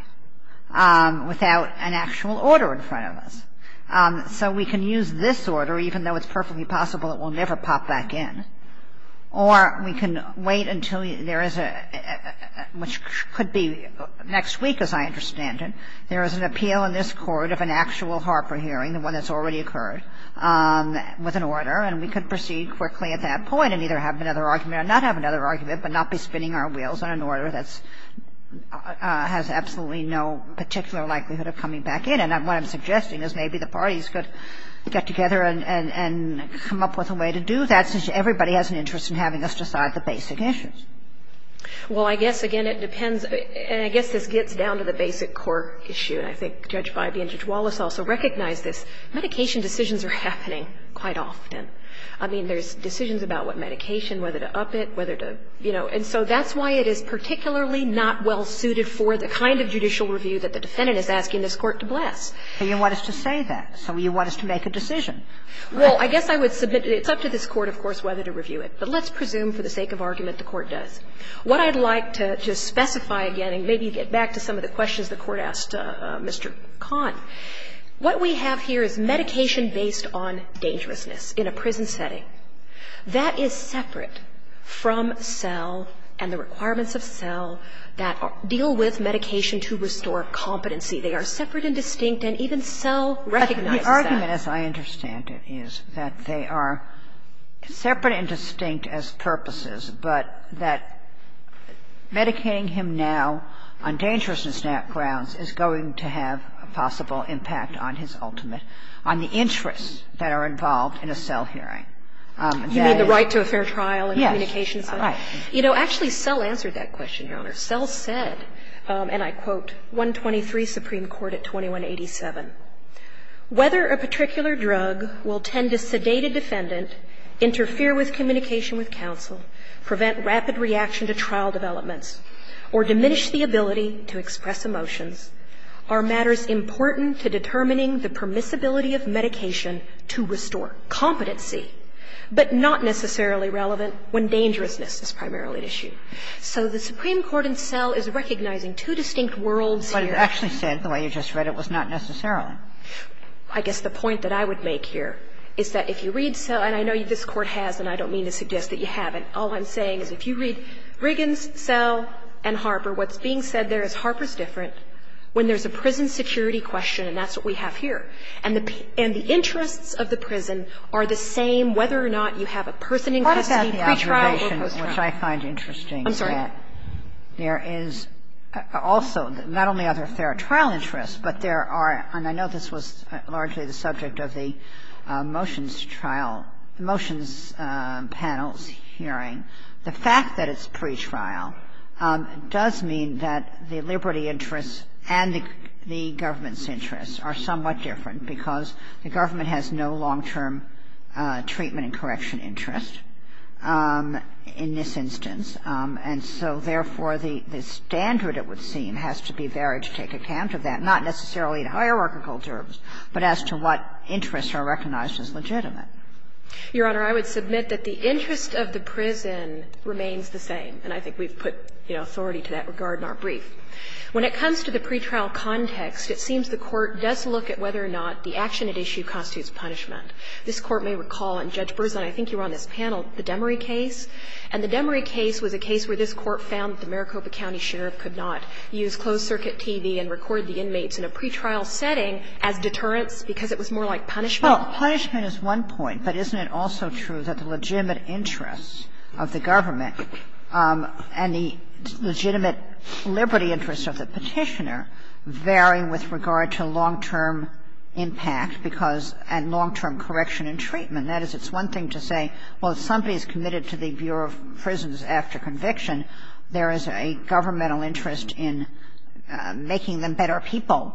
without an actual order in front of us. So we can use this order, even though it's perfectly possible it will never pop back in. Or we can wait until there is a, which could be next week as I understand it, there is an appeal in this court of an actual Harper hearing when it's already occurred with an order, and we could proceed quickly at that point and either have another argument or not have another argument, but not be spinning our wheels on an order that has absolutely no particular likelihood of coming back in. And what I'm suggesting is maybe the parties could get together and come up with a way to do that since everybody has an interest in having us decide the basic issues. Well, I guess, again, it depends. And I guess this gets down to the basic court issue. And I think Judge Feibe and Judge Wallace also recognize this. Medication decisions are happening quite often. I mean, there's decisions about what medication, whether to up it, whether to, you know. And so that's why it is particularly not well suited for the kind of judicial review that the defendant is asking this court to bless. And you want us to say that. So you want us to make a decision. Well, I guess I would submit it up to this court, of course, whether to review it. But let's presume for the sake of argument the court does. What I'd like to just specify again, and maybe get back to some of the questions the court asked Mr. Kahn, what we have here is medication based on dangerousness in a prison setting. That is separate from cells and the requirements of cells that deal with medication to restore competency. They are separate and distinct, and even cell recognizes that. The argument, as I understand it, is that they are separate and distinct as purposes, but that medicating him now on dangerousness grounds is going to have a possible impact on his ultimate, on the interests that are involved in a cell hearing. You mean the right to a fair trial and communication? Yes, right. You know, actually, cell answered that question, Your Honor. Cell said, and I quote, 123 Supreme Court at 2187, whether a particular drug will tend to sedate a defendant, interfere with communication with counsel, prevent rapid reaction to trial development, or diminish the ability to express emotions, are matters important to determining the permissibility of medication to restore competency, but not necessarily relevant when dangerousness is primarily at issue. So the Supreme Court in cell is recognizing two distinct worlds here. But it actually said, the way you just read it, it was not necessarily. I guess the point that I would make here is that if you read cell, and I know this Court has, and I don't mean to suggest that you haven't. All I'm saying is if you read Briggins, cell, and Harper, what's being said there is Harper's difference when there's a prison security question, and that's what we have here. And the interests of the prison are the same whether or not you have a person in custody, pre-trial, or post-trial. What about the observation, which I find interesting, that there is also, not only are there trial interests, but there are, and I know this was largely the subject of the motions trial, motions panel hearing, the fact that it's pre-trial does mean that the liberty interests and the government's interests are somewhat different because the government has no long-term treatment and correction interest in this instance. And so, therefore, the standard, it would seem, has to be varied to take account of that, not necessarily in hierarchical terms, but as to what interests are recognized as legitimate. Your Honor, I would submit that the interests of the prison remains the same, and I think we've put authority to that regard in our brief. When it comes to the pre-trial context, it seems the court does look at whether or not the action at issue constitutes punishment. This court may recall, and Judge Berzin, I think you were on this panel, the Demory case, and the Demory case was a case where this court found the Maricopa County Sheriff could not use closed-circuit TV and record the inmates in a pre-trial setting as deterrents because it was more like punishment. Well, punishment is one point, but isn't it also true that the legitimate interests of the government and the legitimate liberty interests of the petitioner vary with regard to long-term impact and long-term correction and treatment? That is, it's one thing to say, well, if somebody is committed to the Bureau of Prisons after conviction, there is a governmental interest in making them better people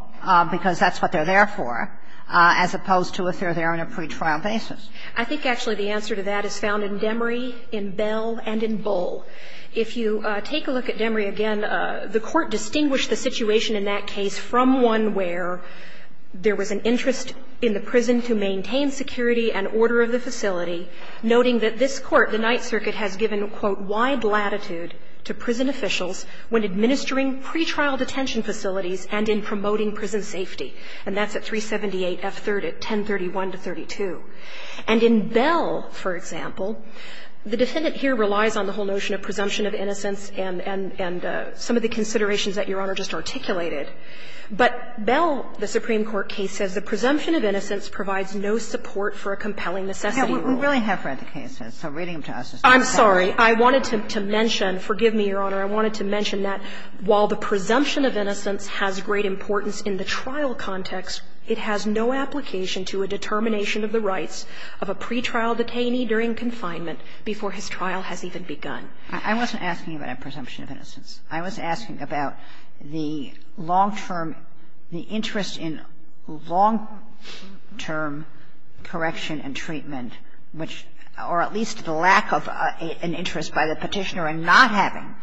because that's what they're there for, as opposed to if they're there on a pre-trial basis. I think actually the answer to that is found in Demory, in Bell, and in Bull. If you take a look at Demory again, the court distinguished the situation in that case from one where there was an interest in the prison to maintain security and order of the facility, noting that this court, the Ninth Circuit, has given, quote, wide latitude to prison officials when administering pre-trial detention facilities and in promoting prison safety. And that's at 378 F. 30, 1031 to 32. And in Bell, for example, the defendant here relies on the whole notion of presumption of innocence and some of the considerations that Your Honor just articulated. But Bell, the Supreme Court case, says the presumption of innocence provides no support for a compelling necessity rule. Kagan. We really have read the case. I'm reading them to us. I'm sorry. I wanted to mention, forgive me, Your Honor, I wanted to mention that while the presumption of innocence has great importance in the trial context, it has no application to a determination of the rights of a pre-trial detainee during confinement before his trial has even begun. I wasn't asking about a presumption of innocence. I was asking about the long-term, the interest in long-term correction and treatment, which, or at least the lack of an interest by the petitioner in not having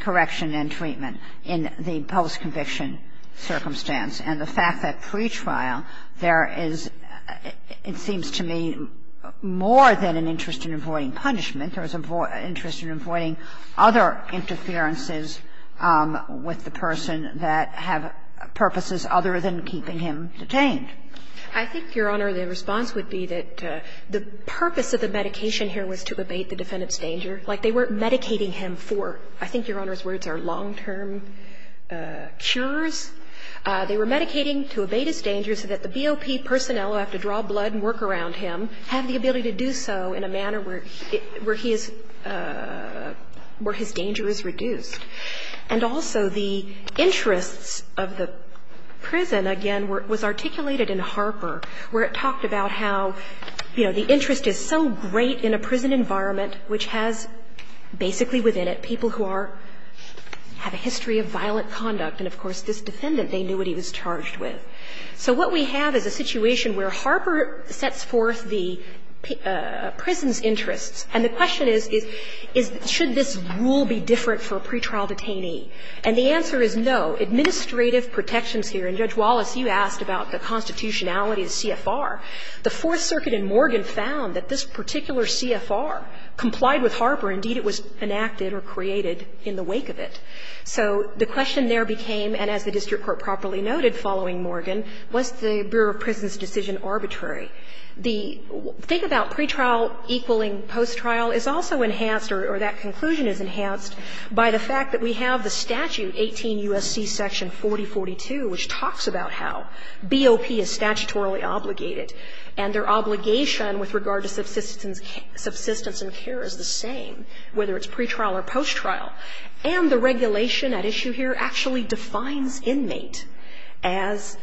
correction and treatment in the post-conviction circumstance. And the fact that pre-trial, there is, it seems to me, more than an interest in avoiding punishment, there's an interest in avoiding other interferences with the person that have purposes other than keeping him detained. I think, Your Honor, the response would be that the purpose of the medication here was to evade the defendant's danger. Like, they weren't medicating him for, I think, Your Honor's words, their long-term cures. They were medicating to evade his danger so that the BOP personnel who have to draw blood and work around him have the ability to do so in a manner where his danger is reduced. And also the interest of the prison, again, was articulated in Harper, where it talks about how, you know, the interest is so great in a prison environment which has basically within it people who are, have a history of violent conduct. And, of course, this defendant, they knew what he was charged with. So what we have is a situation where Harper sets forth the prison's interest. And the question is, should this rule be different for a pretrial detainee? And the answer is no. Administrative protections here, and Judge Wallace, you asked about the constitutionality of CFR. The Fourth Circuit in Morgan found that this particular CFR complied with Harper. Indeed, it was enacted or created in the wake of it. So the question there became, and as the district court properly noted following Morgan, was the Bureau of Prisons' decision arbitrary? The thing about pretrial equaling post-trial is also enhanced, or that conclusion is enhanced, by the fact that we have the statute, 18 U.S.C. section 4042, which talks about how BOP is statutorily obligated and their obligation with regard to subsistence and care is the same, whether it's pretrial or post-trial. And the regulation at issue here actually defines inmate as,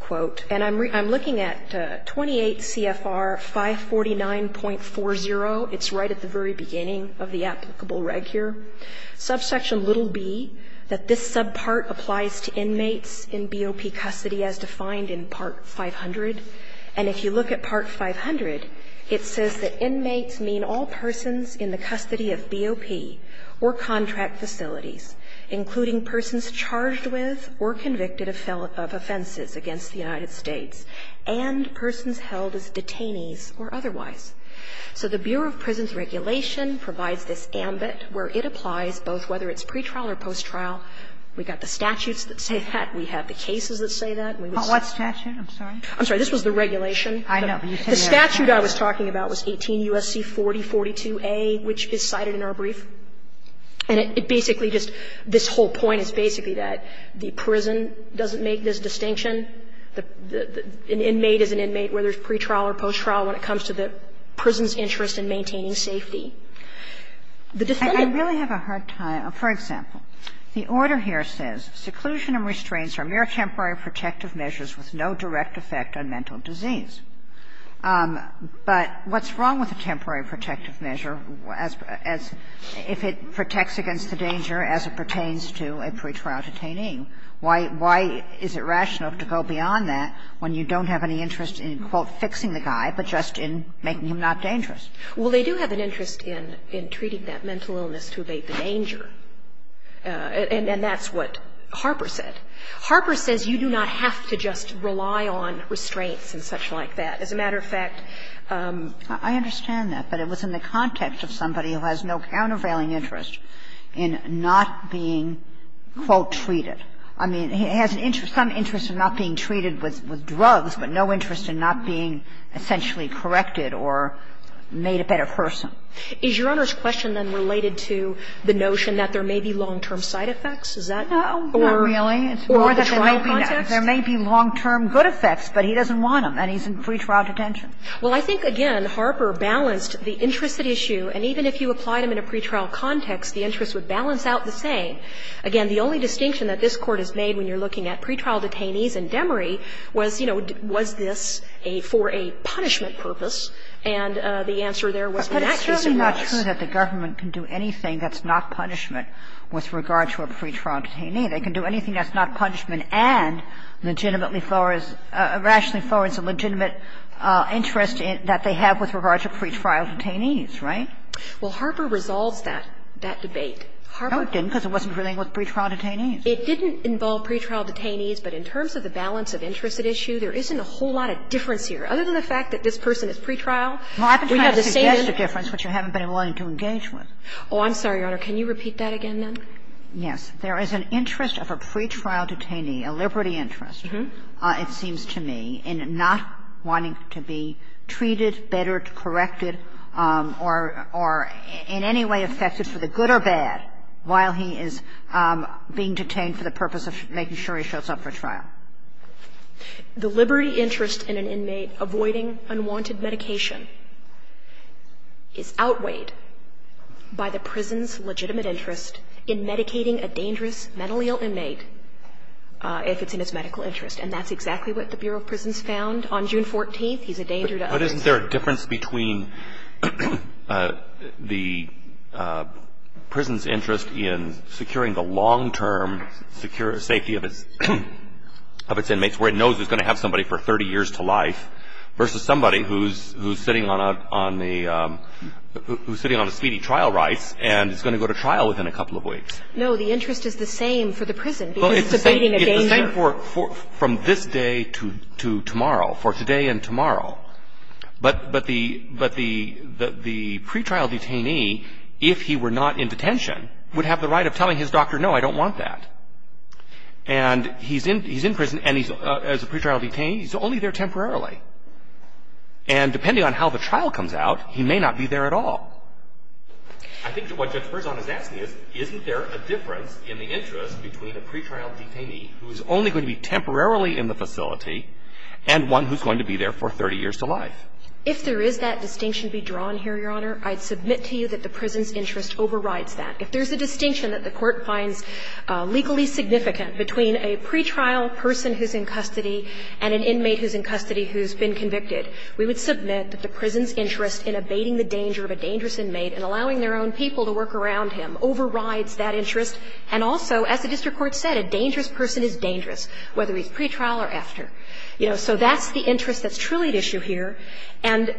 quote, and I'm looking at 28 CFR 549.40. It's right at the very beginning of the applicable reg here. Subsection little b, that this subpart applies to inmates in BOP custody as defined in part 500. And if you look at part 500, it says that inmates mean all persons in the custody of BOP or contract facilities, including persons charged with or convicted of offenses against the United States and persons held as detainees or otherwise. So the Bureau of Prisons regulation provides this ambit where it applies both whether it's pretrial or post-trial. We've got the statutes that say that. We have the cases that say that. What statute? I'm sorry. I'm sorry. This was the regulation. I know. The statute I was talking about was 18 U.S.C. 4042A, which is cited in our brief. And it basically just, this whole point is basically that the prison doesn't make this distinction. An inmate is an inmate, whether it's pretrial or post-trial, when it comes to the prison's interest in maintaining safety. I really have a hard time. For example, the order here says, Seclusion and restraints are mere temporary protective measures with no direct effect on mental disease. But what's wrong with a temporary protective measure if it protects against the danger as it pertains to a pretrial detainee? Why is it rational to go beyond that when you don't have any interest in, quote, fixing the guy, but just in making him not dangerous? Well, they do have an interest in treating that mental illness through the danger. And that's what Harper said. Harper says you do not have to just rely on restraints and such like that. As a matter of fact, I understand that, but it was in the context of somebody who has no countervailing interest in not being, quote, treated. I mean, he has some interest in not being treated with drugs, but no interest in not being essentially corrected or made a better person. Is Your Honor's question, then, related to the notion that there may be long-term side effects? Is that? No, not really. It's more that there may be long-term good effects, but he doesn't want them, and he's in pretrial detention. Well, I think, again, Harper balanced the interest at issue, and even if you applied them in a pretrial context, the interest would balance out the same. Again, the only distinction that this Court has made when you're looking at pretrial detainees was, you know, was this for a punishment purpose? And the answer there was not just a question. But it's certainly not true that the government can do anything that's not punishment with regard to a pretrial detainee. They can do anything that's not punishment and rationally forwards a legitimate interest that they have with regard to pretrial detainees, right? Well, Harper resolved that debate. No, it didn't, because it wasn't really with pretrial detainees. It didn't involve pretrial detainees, but in terms of the balance of interest at issue, there isn't a whole lot of difference here. Other than the fact that this person is pretrial. Well, I'm trying to suggest a difference, which I haven't been willing to engage with. Oh, I'm sorry, Your Honor. Can you repeat that again, then? Yes. There is an interest of a pretrial detainee, a liberty interest, it seems to me, in not wanting to be treated, bettered, corrected, or in any way effective for the good or bad, while he is being detained for the purpose of making sure he shows up for trial. The liberty interest in an inmate avoiding unwanted medication is outweighed by the prison's legitimate interest in medicating a dangerous, mentally ill inmate if it's in his medical interest. And that's exactly what the Bureau of Prisons found on June 14th. He's a danger to us. But isn't there a difference between the prison's interest in securing the long-term safety of its inmates, where it knows it's going to have somebody for 30 years to life, versus somebody who's sitting on a speedy trial right and is going to go to trial within a couple of weeks? No, the interest is the same for the prison. It's the same from this day to tomorrow, for today and tomorrow. But the pretrial detainee, if he were not in detention, would have the right of telling his doctor, no, I don't want that. And he's in prison, and as a pretrial detainee, he's only there temporarily. And depending on how the trial comes out, he may not be there at all. I think what Judge Furzon is asking is, isn't there a difference in the interest between a pretrial detainee who is only going to be temporarily in the facility and one who's going to be there for 30 years to life? If there is that distinction to be drawn here, Your Honor, I'd submit to you that the prison's interest overrides that. If there's a distinction that the Court finds legally significant between a pretrial person who's in custody and an inmate who's in custody who's been convicted, we would submit that the prison's interest in abating the danger of a dangerous inmate and allowing their own people to work around him overrides that interest. And also, as the district court said, a dangerous person is dangerous, whether he's pretrial or after. You know, so that's the interest that's truly at issue here. And,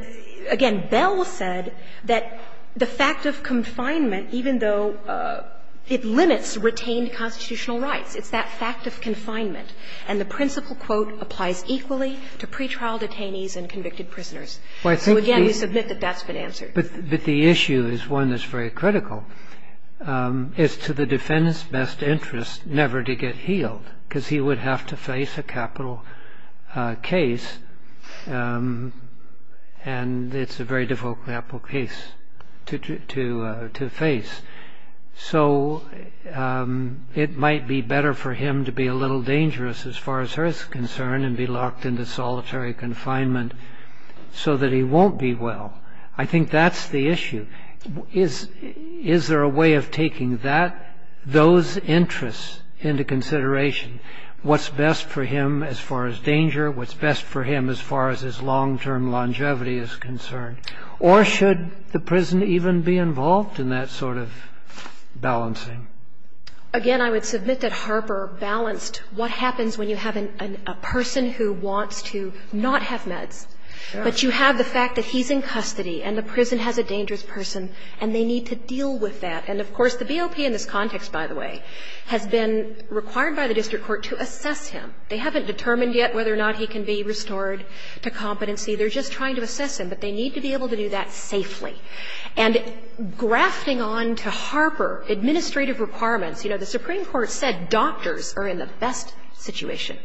again, Bell said that the fact of confinement, even though it limits retained constitutional rights, and the principle quote applies equally to pretrial detainees and convicted prisoners. So, again, we submit that that's been answered. But the issue is one that's very critical, is to the defendant's best interest never to get healed, because he would have to face a capital case, and it's a very difficult capital case to face. So it might be better for him to be a little dangerous, as far as her is concerned, and be locked into solitary confinement so that he won't be well. I think that's the issue. Is there a way of taking those interests into consideration? What's best for him as far as danger? What's best for him as far as his long-term longevity is concerned? Or should the prison even be involved in that sort of balancing? Again, I would submit that Harper balanced what happens when you have a person who wants to not have meds. But you have the fact that he's in custody, and the prison has a dangerous person, and they need to deal with that. And, of course, the BOP in this context, by the way, has been required by the district court to assess him. They haven't determined yet whether or not he can be restored to competency. They're just trying to assess him, but they need to be able to do that safely. And grasping on to Harper, administrative requirements. You know, the Supreme Court said doctors are in the best situation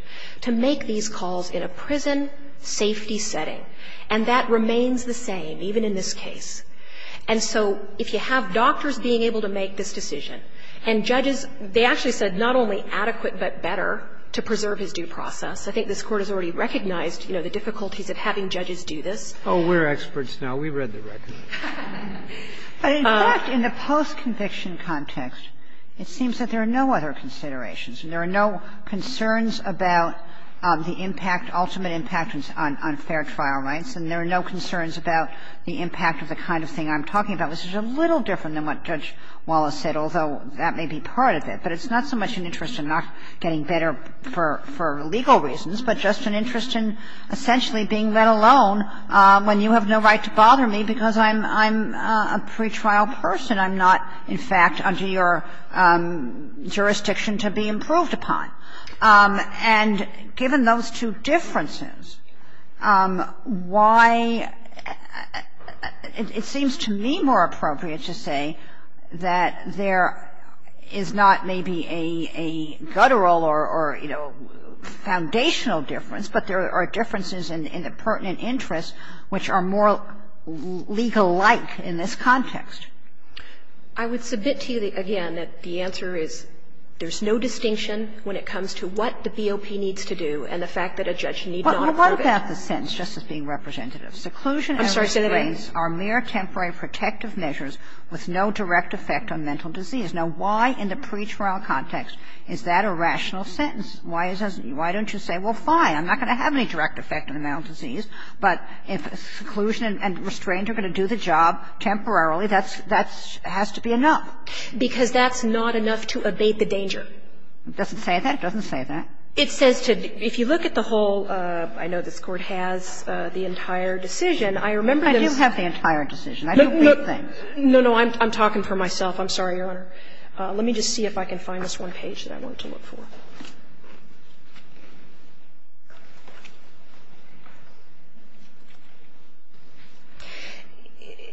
to make these calls in a prison safety setting. And that remains the same, even in this case. And so if you have doctors being able to make this decision, and judges, they actually said not only adequate but better to preserve his due process. I think this Court has already recognized, you know, the difficulties of having judges do this. Oh, we're experts now. We read the record. In fact, in the post-conviction context, it seems that there are no other considerations. And there are no concerns about the impact, ultimate impact on fair trial rights. And there are no concerns about the impact of the kind of thing I'm talking about. This is a little different than what Judge Wallace said, although that may be part of it. But it's not so much an interest in not getting better for legal reasons, but just an interest in essentially being let alone when you have no right to bother me because I'm a pretrial person. I'm not, in fact, under your jurisdiction to be improved upon. And given those two differences, why it seems to me more appropriate to say that there is not maybe a federal or, you know, foundational difference, but there are differences in the pertinent interests which are more legal life in this context. I would submit to you, again, that the answer is there's no distinction when it comes to what the BOP needs to do and the fact that a judge needs to offer it. Well, I want to pass a sentence just as being representative. Seclusion and restraints are mere temporary protective measures with no direct effect on mental disease. Now, why in the pretrial context is that a rational sentence? Why don't you say, well, fine, I'm not going to have any direct effect on mental disease, but if seclusion and restraints are going to do the job temporarily, that has to be enough. Because that's not enough to evade the danger. It doesn't say that. It doesn't say that. It says to, if you look at the whole, I know this Court has the entire decision. I do have the entire decision. No, no, I'm talking for myself. I'm sorry, Your Honor. Let me just see if I can find this one page that I want to look for.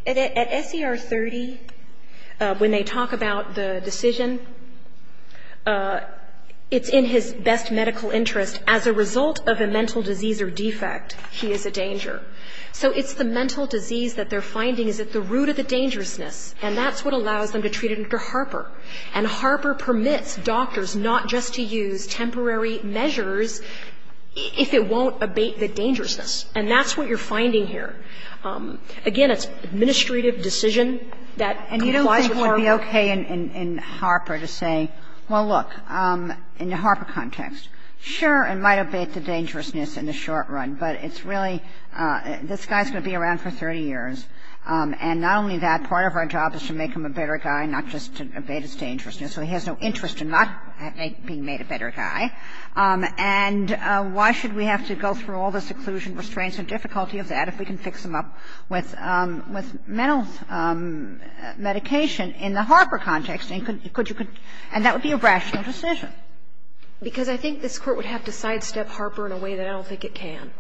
At SCR 30, when they talk about the decision, it's in his best medical interest. As a result of a mental disease or defect, he is a danger. So it's the mental disease that they're finding is at the root of the dangerousness, and that's what allows them to treat him to Harper. And Harper permits doctors not just to use temporary measures if it won't abate the dangerousness. And that's what you're finding here. Again, it's an administrative decision. And you think it would be okay in Harper to say, well, look, in the Harper context, sure, it might abate the dangerousness in the short run, but it's really, this guy's going to be around for 30 years. And not only that, part of our job is to make him a better guy, not just to abate his dangerousness. So he has no interest in not being made a better guy. And why should we have to go through all the seclusion, restraints and difficulty of that if we can fix him up with mental medication in the Harper context? And that would be a rational decision. Because I think this court would have to sidestep Harper in a way that I don't think it can.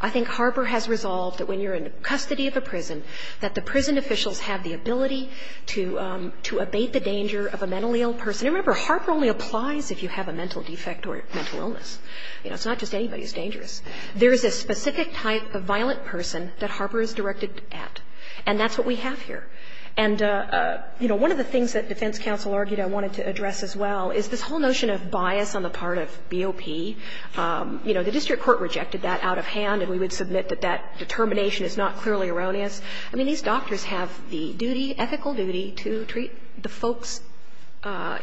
I think Harper has resolved that when you're in custody of a prison, that the prison officials have the ability to abate the danger of a mentally ill person. Remember, Harper only applies if you have a mental defect or mental illness. It's not just anybody who's dangerous. There is a specific type of violent person that Harper is directed at. And that's what we have here. And one of the things that defense counsel argued I wanted to address as well is this whole notion of bias on the part of BOP. The district court rejected that out of hand, and we would submit that that determination is not clearly erroneous. I mean, these doctors have the ethical duty to treat the folks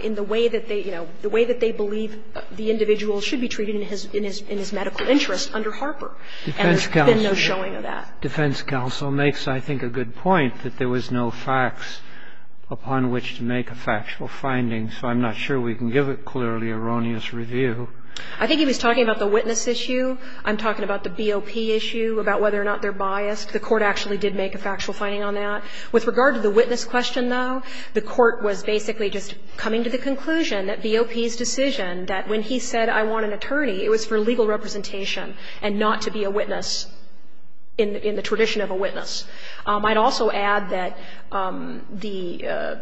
in the way that they believe the individual should be treated in his medical interest under Harper. And there's been no showing of that. Defense counsel makes, I think, a good point that there was no facts upon which to make a factual finding. So I'm not sure we can give a clearly erroneous review. I think he was talking about the witness issue. I'm talking about the BOP issue, about whether or not they're biased. The court actually did make a factual finding on that. With regard to the witness question, though, the court was basically just coming to the conclusion that BOP's decision that when he said, I want an attorney, it was for legal representation and not to be a witness in the tradition of a witness. I'd also add that the-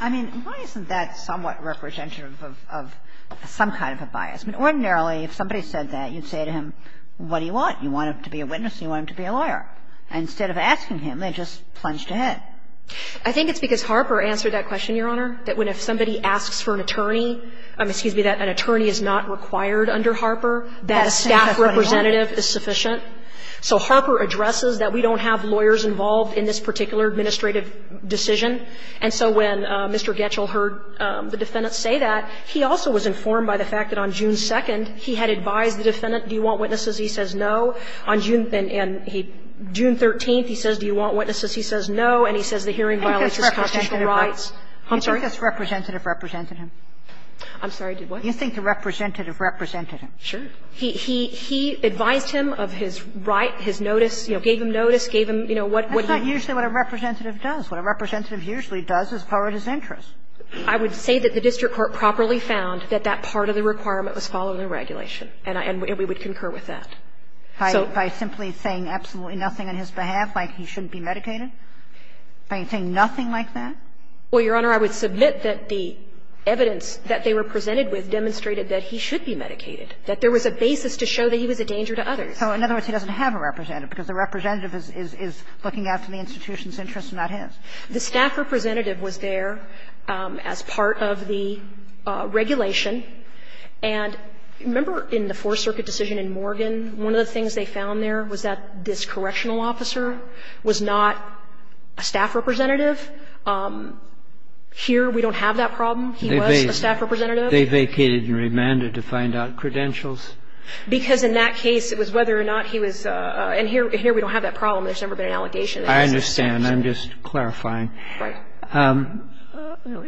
I mean, why isn't that somewhat representative of some kind of a bias? I mean, ordinarily, if somebody said that, you'd say to him, what do you want? You want him to be a witness or you want him to be a lawyer? And instead of asking him, they just plunged ahead. I think it's because Harper answered that question, Your Honor, that when somebody asks for an attorney, excuse me, that an attorney is not required under Harper, that a staff representative is sufficient. So Harper addresses that we don't have lawyers involved in this particular administrative decision. And so when Mr. Getchell heard the defendant say that, he also was informed by the fact that on June 2nd, he had advised the defendant, do you want witnesses? He says no. On June 13th, he says, do you want witnesses? He says no. And he says the hearing violates his constitutional rights. I'm sorry? You think the representative represented him? I'm sorry, did what? You think the representative represented him? Sure. He advised him of his right, his notice, you know, gave him notice, gave him, you know, what- That's not usually what a representative does. What a representative usually does is follow his interests. I would say that the district court properly found that that part of the requirement was following regulation. And we would concur with that. By simply saying absolutely nothing on his behalf, like he shouldn't be medicated? By saying nothing like that? Well, Your Honor, I would submit that the evidence that they were presented with demonstrated that he should be medicated, that there was a basis to show that he was a danger to others. So in other words, he doesn't have a representative because the representative is looking after the institution's interests and not his. The staff representative was there as part of the regulation. And remember in the Fourth Circuit decision in Morgan, one of the things they found there was that this correctional officer was not a staff representative. Here we don't have that problem. He was a staff representative. They vacated and remanded to find out credentials? Because in that case it was whether or not he was- and here we don't have that problem. There's never been an allegation. I understand. I'm just clarifying.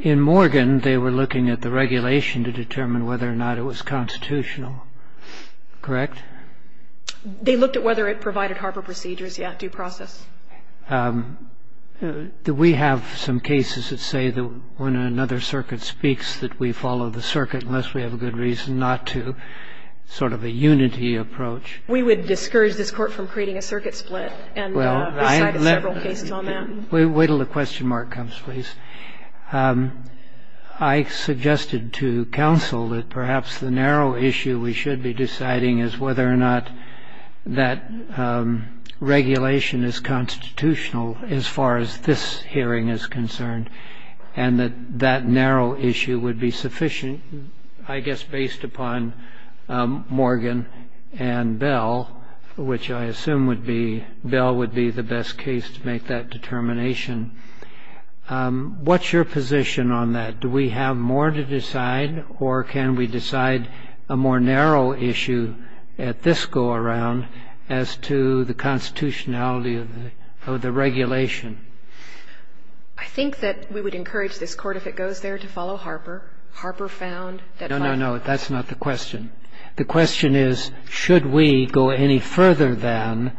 In Morgan, they were looking at the regulation to determine whether or not it was constitutional. Correct? They looked at whether it provided Harper procedures, yes, due process. Do we have some cases that say that when another circuit speaks that we follow the circuit, unless we have a good reason not to, sort of a unity approach? We would discourage this Court from creating a circuit split. We have several cases on that. Wait until the question mark comes, please. I suggested to counsel that perhaps the narrow issue we should be deciding is whether or not that regulation is constitutional as far as this hearing is concerned and that that narrow issue would be sufficient, I guess, based upon Morgan and Bell, which I assume would be-Bell would be the best case to make that determination. What's your position on that? Do we have more to decide or can we decide a more narrow issue at this go-around as to the constitutionality of the regulation? I think that we would encourage this Court, if it goes there, to follow Harper. Harper found that- No, no, no. That's not the question. The question is, should we go any further than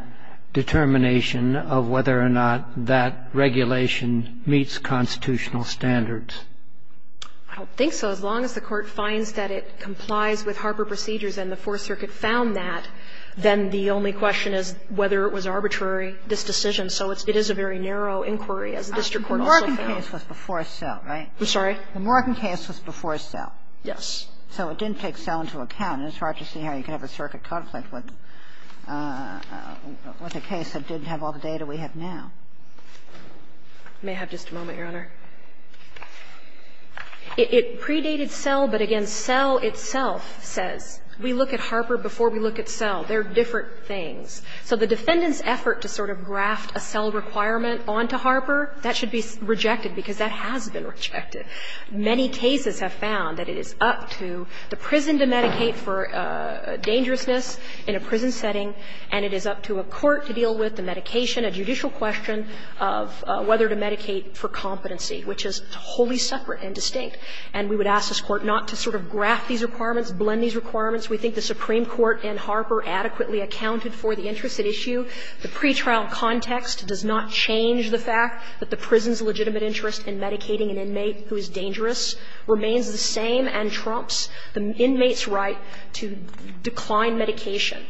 determination of whether or not that regulation meets constitutional standards? I don't think so. As long as the Court finds that it complies with Harper procedures and the Fourth Circuit found that, then the only question is whether it was arbitrary, this decision. So it is a very narrow inquiry. The Morgan case was before a sale, right? I'm sorry? The Morgan case was before a sale. Yes. So it didn't take sale into account. In this Harper scenario, you could have a circuit conflict. But it was a case that didn't have all the data we have now. May I have just a moment, Your Honor? It predated sale, but again, sale itself says-we look at Harper before we look at sale. They're different things. So the defendant's effort to sort of graft a sale requirement onto Harper, that should be rejected because that has been rejected. Many cases have found that it is up to the prison to medicate for dangerousness in a prison setting, and it is up to a court to deal with the medication, a judicial question of whether to medicate for competency, which is wholly separate and distinct. And we would ask this Court not to sort of graft these requirements, blend these requirements. We think the Supreme Court in Harper adequately accounted for the interest at issue. The pretrial context does not change the fact that the prison's legitimate interest in medicating an inmate who is dangerous remains the same and trumps the inmate's right to decline medication.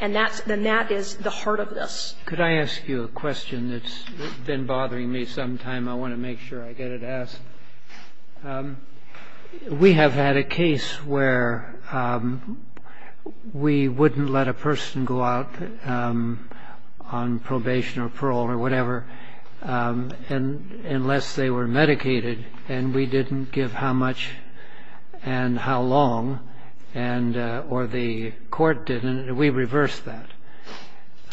And that is the heart of this. Could I ask you a question that's been bothering me some time? I want to make sure I get it asked. We have had a case where we wouldn't let a person go out on probation or parole or medicated, and we didn't give how much and how long, or the court didn't. We reversed that.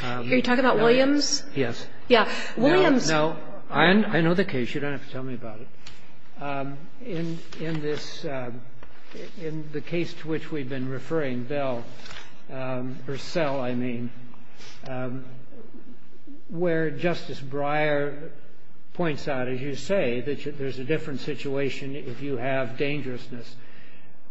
Are you talking about Williams? Yes. I know the case. You don't have to tell me about it. In the case to which we've been referring, Bell v. Sell, I mean, where Justice Breyer points out, as you say, that there's a different situation if you have dangerousness.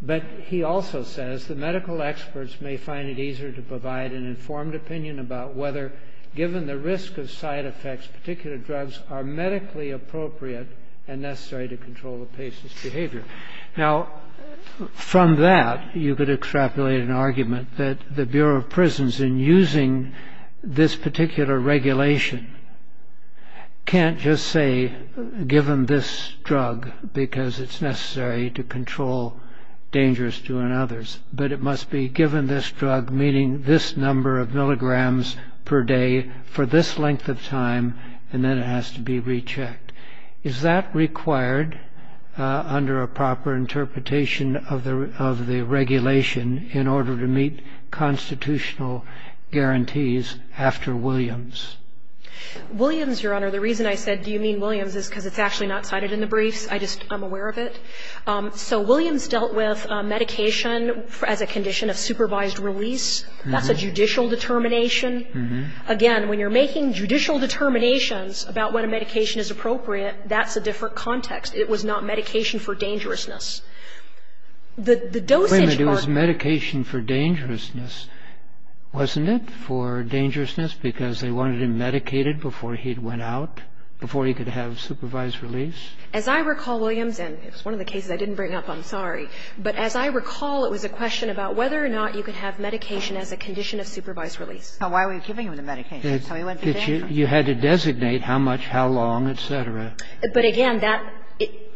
But he also says, the medical experts may find it easier to provide an informed opinion about whether, given the risk of side effects, particular drugs are medically appropriate and necessary to control the patient's behavior. Now, from that, you could extrapolate an argument that the Bureau of Prisons, in using this can't just say, given this drug, because it's necessary to control dangers to others, but it must be given this drug, meaning this number of milligrams per day for this length of time, and then it has to be rechecked. Is that required under a proper interpretation of the regulation in order to meet constitutional guarantees after Williams? Williams, Your Honor, the reason I said, do you mean Williams, is because it's actually not cited in the brief. I just am aware of it. So Williams dealt with medication as a condition of supervised release. That's a judicial determination. Again, when you're making judicial determinations about when a medication is appropriate, that's a different context. It was not medication for dangerousness. It was medication for dangerousness. Wasn't it for dangerousness because they wanted him medicated before he went out, before he could have supervised release? As I recall, Williams, and it's one of the cases I didn't bring up, I'm sorry, but as I recall, it was a question about whether or not you could have medication as a condition of supervised release. Why were you giving him the medication? You had to designate how much, how long, et cetera. But again, that,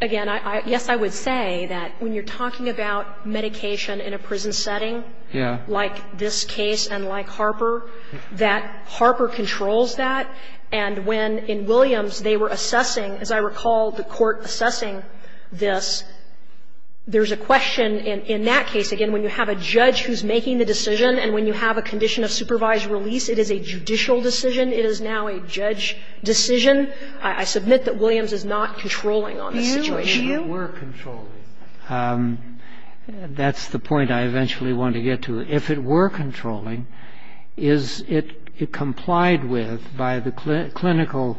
again, yes, I would say that when you're talking about medication in a prison setting, like this case and like Harper, that Harper controls that. And when, in Williams, they were assessing, as I recall, the court assessing this, there's a question in that case, again, when you have a judge who's making the decision, and when you have a condition of supervised release, it is a judicial decision. It is now a judge decision. I submit that Williams is not controlling on that situation. You, you? If it were controlling. That's the point I eventually want to get to. If it were controlling, is it complied with by the clinical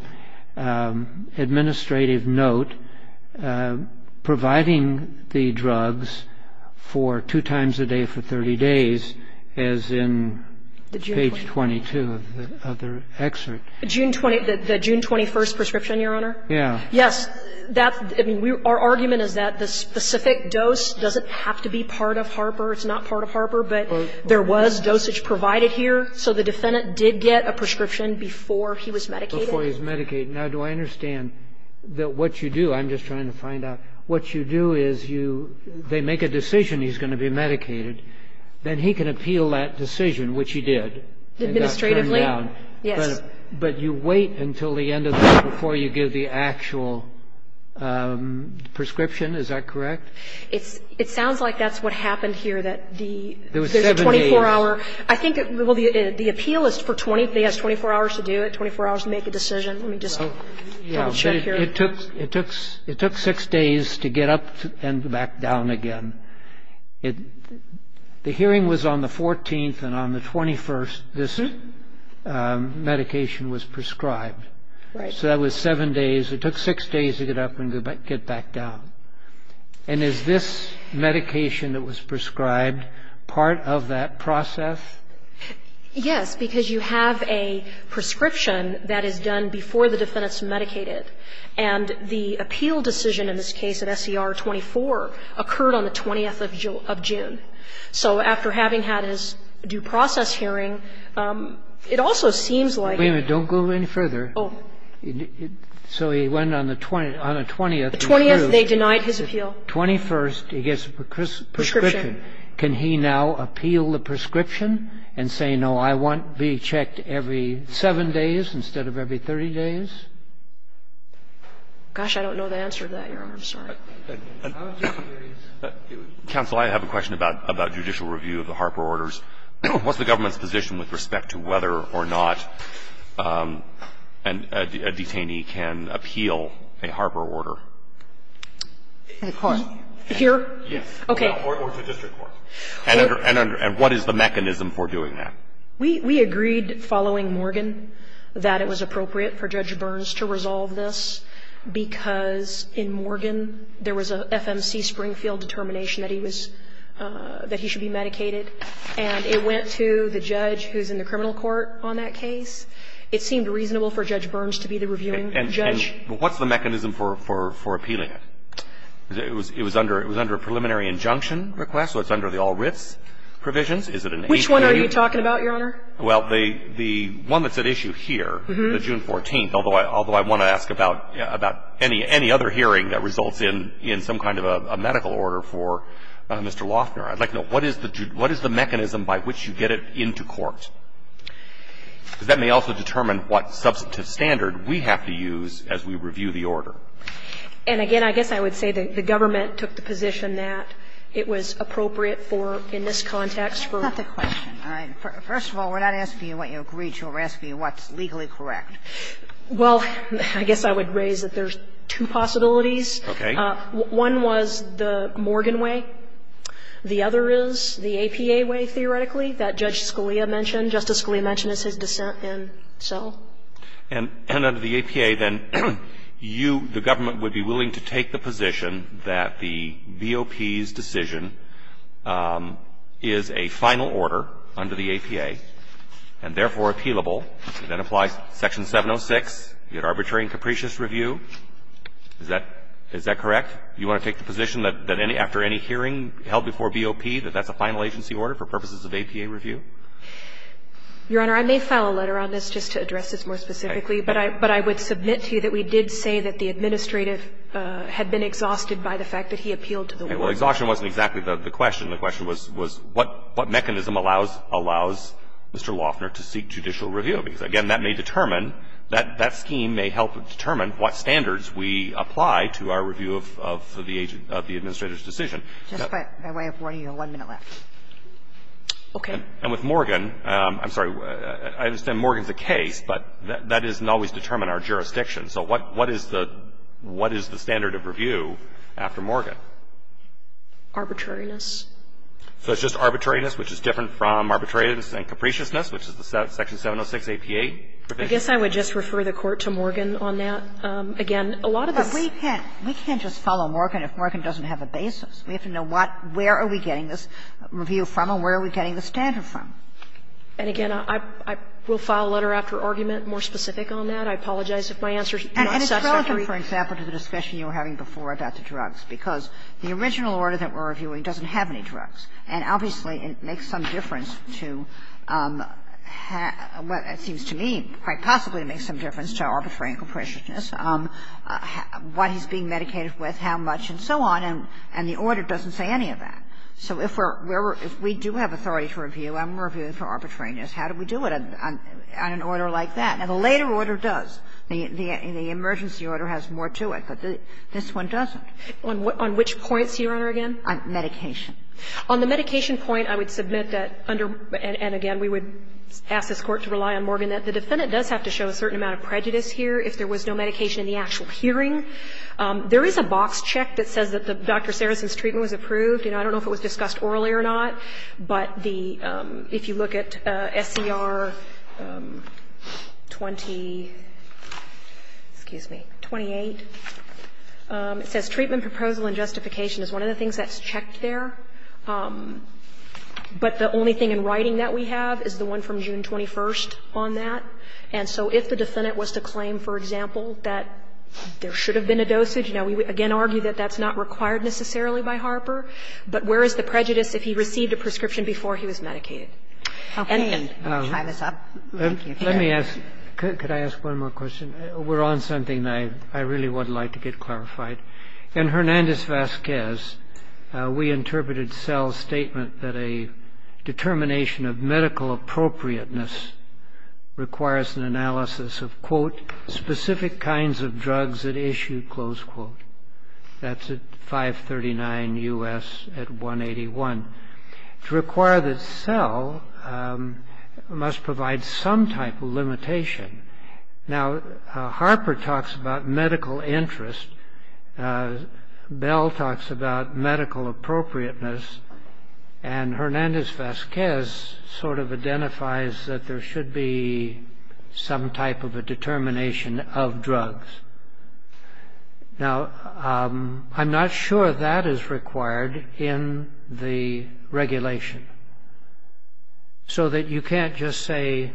administrative note, providing the drugs for two times a day for 30 days, as in page 22 of the excerpt? June 20, the June 21st prescription, Your Honor? Yeah. Yes. That, I mean, our argument is that the specific dose doesn't have to be part of Harper. It's not part of Harper, but there was dosage provided here. So the defendant did get a prescription before he was medicated? Before he was medicated. Now, do I understand that what you do, I'm just trying to find out, what you do is you, they make a decision he's going to be medicated, then he can appeal that decision, which he did. Administratively? Administratively. Yes. But you wait until the end of the day before you give the actual prescription, is that correct? It sounds like that's what happened here, that the 24-hour. There was seven days. I think, well, the appeal is for 20, they have 24 hours to do it, 24 hours to make a decision. Let me just down shift here. It took, it took six days to get up and back down again. The hearing was on the 14th, and on the 21st, this medication was prescribed. Right. So that was seven days. It took six days to get up and get back down. And is this medication that was prescribed part of that process? Yes, because you have a prescription that is done before the defendant's medicated. And the appeal decision in this case at SCR 24 occurred on the 20th of June. So after having had his due process hearing, it also seems like. Wait a minute, don't go any further. Oh. So he went on the 20th. On the 20th, they denied his appeal. 21st, he gets a prescription. Can he now appeal the prescription and say, no, I want to be checked every seven days instead of every 30 days? Gosh, I don't know the answer to that, Your Honor. I'm sorry. Counsel, I have a question about judicial review of the Harper orders. What's the government's position with respect to whether or not a detainee can appeal a Harper order? Here? Yes. Okay. Or to the district court. And what is the mechanism for doing that? We agreed following Morgan that it was appropriate for Judge Burns to resolve this. Because in Morgan, there was an FMC Springfield determination that he should be medicated. And it went to the judge who's in the criminal court on that case. It seemed reasonable for Judge Burns to be the reviewing judge. And what's the mechanism for appealing it? It was under a preliminary injunction request, so it's under the all-writs provisions. Which one are you talking about, Your Honor? Well, the one that's at issue here, the June 14th, although I want to ask about any other hearing that results in some kind of a medical order for Mr. Loeffner. I'd like to know, what is the mechanism by which you get it into court? That may also determine what substantive standard we have to use as we review the order. And again, I guess I would say that the government took the position that it was appropriate in this context for That's a question. First of all, we're not asking you what you agreed to. We're asking you what's legally correct. Well, I guess I would raise that there's two possibilities. Okay. One was the Morgan way. The other is the APA way, theoretically, that Judge Scalia mentioned. Justice Scalia mentioned it's his dissent, and so. And under the APA, then, you, the government, would be willing to take the position that the BOP's decision is a final order under the APA, and therefore appealable, and that applies Section 706, the Arbitrary and Capricious Review. Is that correct? Do you want to take the position that after any hearing held before BOP, that that's a final agency order for purposes of APA review? Your Honor, I may file a letter on this just to address this more specifically. Okay. But I would submit to you that we did say that the administrative had been exhausted by the fact that he appealed to the law. Well, exhaustion wasn't exactly the question. The question was what mechanism allows Mr. Loeffner to seek judicial review? Because, again, that may determine, that scheme may help determine what standards we apply to our review of the administrator's decision. Just by way of warning, you have one minute left. Okay. And with Morgan, I'm sorry, I understand Morgan's the case, but that doesn't always determine our jurisdiction. So what is the standard of review after Morgan? Arbitrariness. So it's just arbitrariness, which is different from arbitrariness and capriciousness, which is the Section 706 APA? I guess I would just refer the Court to Morgan on that. Again, a lot of the- We can't just follow Morgan if Morgan doesn't have a basis. We have to know where are we getting this review from and where are we getting the standard from? And, again, I will file a letter after argument more specific on that. I apologize if my answer is not satisfactory. And it's hard to refer, for example, to the discussion you were having before about the drugs, because the original order that we're reviewing doesn't have any drugs. And, obviously, it makes some difference to what it seems to me quite possibly to make some difference to arbitrary and capriciousness, what he's being medicated with, how much, and so on. And the order doesn't say any of that. So if we do have authority to review, I'm reviewing for arbitrariness. How do we do it on an order like that? And the later order does. The emergency order has more to it, but this one doesn't. On which point, Your Honor, again? On medication. On the medication point, I would submit that under-and, again, we would ask this Court to rely on Morgan. The defendant does have to show a certain amount of prejudice here if there was no medication in the actual hearing. There is a box check that says that Dr. Sarrison's treatment was approved. I don't know if it was discussed orally or not, but if you look at SDR 28, it says, Treatment, Proposal, and Justification is one of the things that's checked there. But the only thing in writing that we have is the one from June 21 on that. And so if the defendant was to claim, for example, that there should have been a dosage, we would, again, argue that that's not required necessarily by Harper. But where is the prejudice if he received a prescription before he was medicated? I'll try this out. Let me ask. Could I ask one more question? We're on something I really would like to get clarified. In Hernandez-Vasquez, we interpreted Sell's statement that a determination of medical appropriateness requires an analysis of, quote, specific kinds of drugs that issue, close quote. That's at 539 U.S. at 181. To require that Sell must provide some type of limitation. Now, Harper talks about medical interest. Bell talks about medical appropriateness. And Hernandez-Vasquez sort of identifies that there should be some type of a determination of drugs. Now, I'm not sure that is required in the regulation. So that you can't just say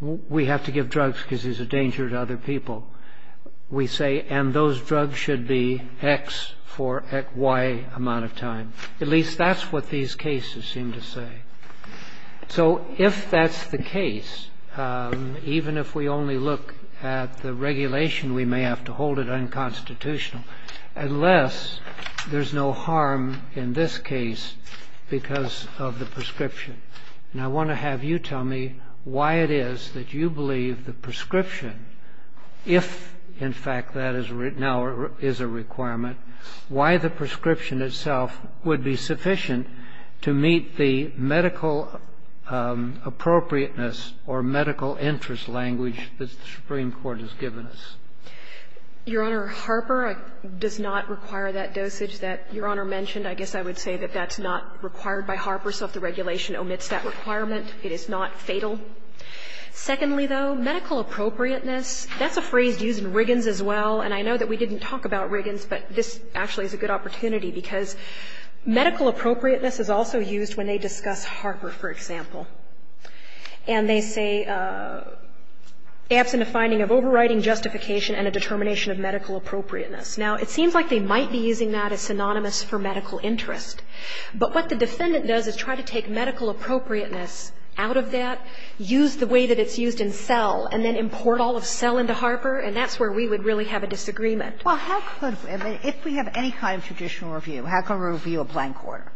we have to give drugs because there's a danger to other people. We say, and those drugs should be X for at Y amount of time. At least that's what these cases seem to say. So if that's the case, even if we only look at the regulation, we may have to hold it unconstitutional. Unless there's no harm in this case because of the prescription. And I want to have you tell me why it is that you believe the prescription, if in fact that now is a requirement, why the prescription itself would be sufficient to meet the medical appropriateness or medical interest language that the Supreme Court has given us. Your Honor, Harper does not require that dosage that Your Honor mentioned. I guess I would say that that's not required by Harper. So if the regulation omits that requirement, it is not fatal. Secondly, though, medical appropriateness, that's a phrase used in Riggins as well. And I know that we didn't talk about Riggins, but this actually is a good opportunity. Because medical appropriateness is also used when they discuss Harper, for example. And they say, after the finding of overriding justification and a determination of medical appropriateness. Now, it seems like they might be using that as synonymous for medical interest. But what the defendant does is try to take medical appropriateness out of that, use the way that it's used in cell, and then import all of cell into Harper, and that's where we would really have a disagreement. Well, if we have any kind of judicial review, how can we review a blank order?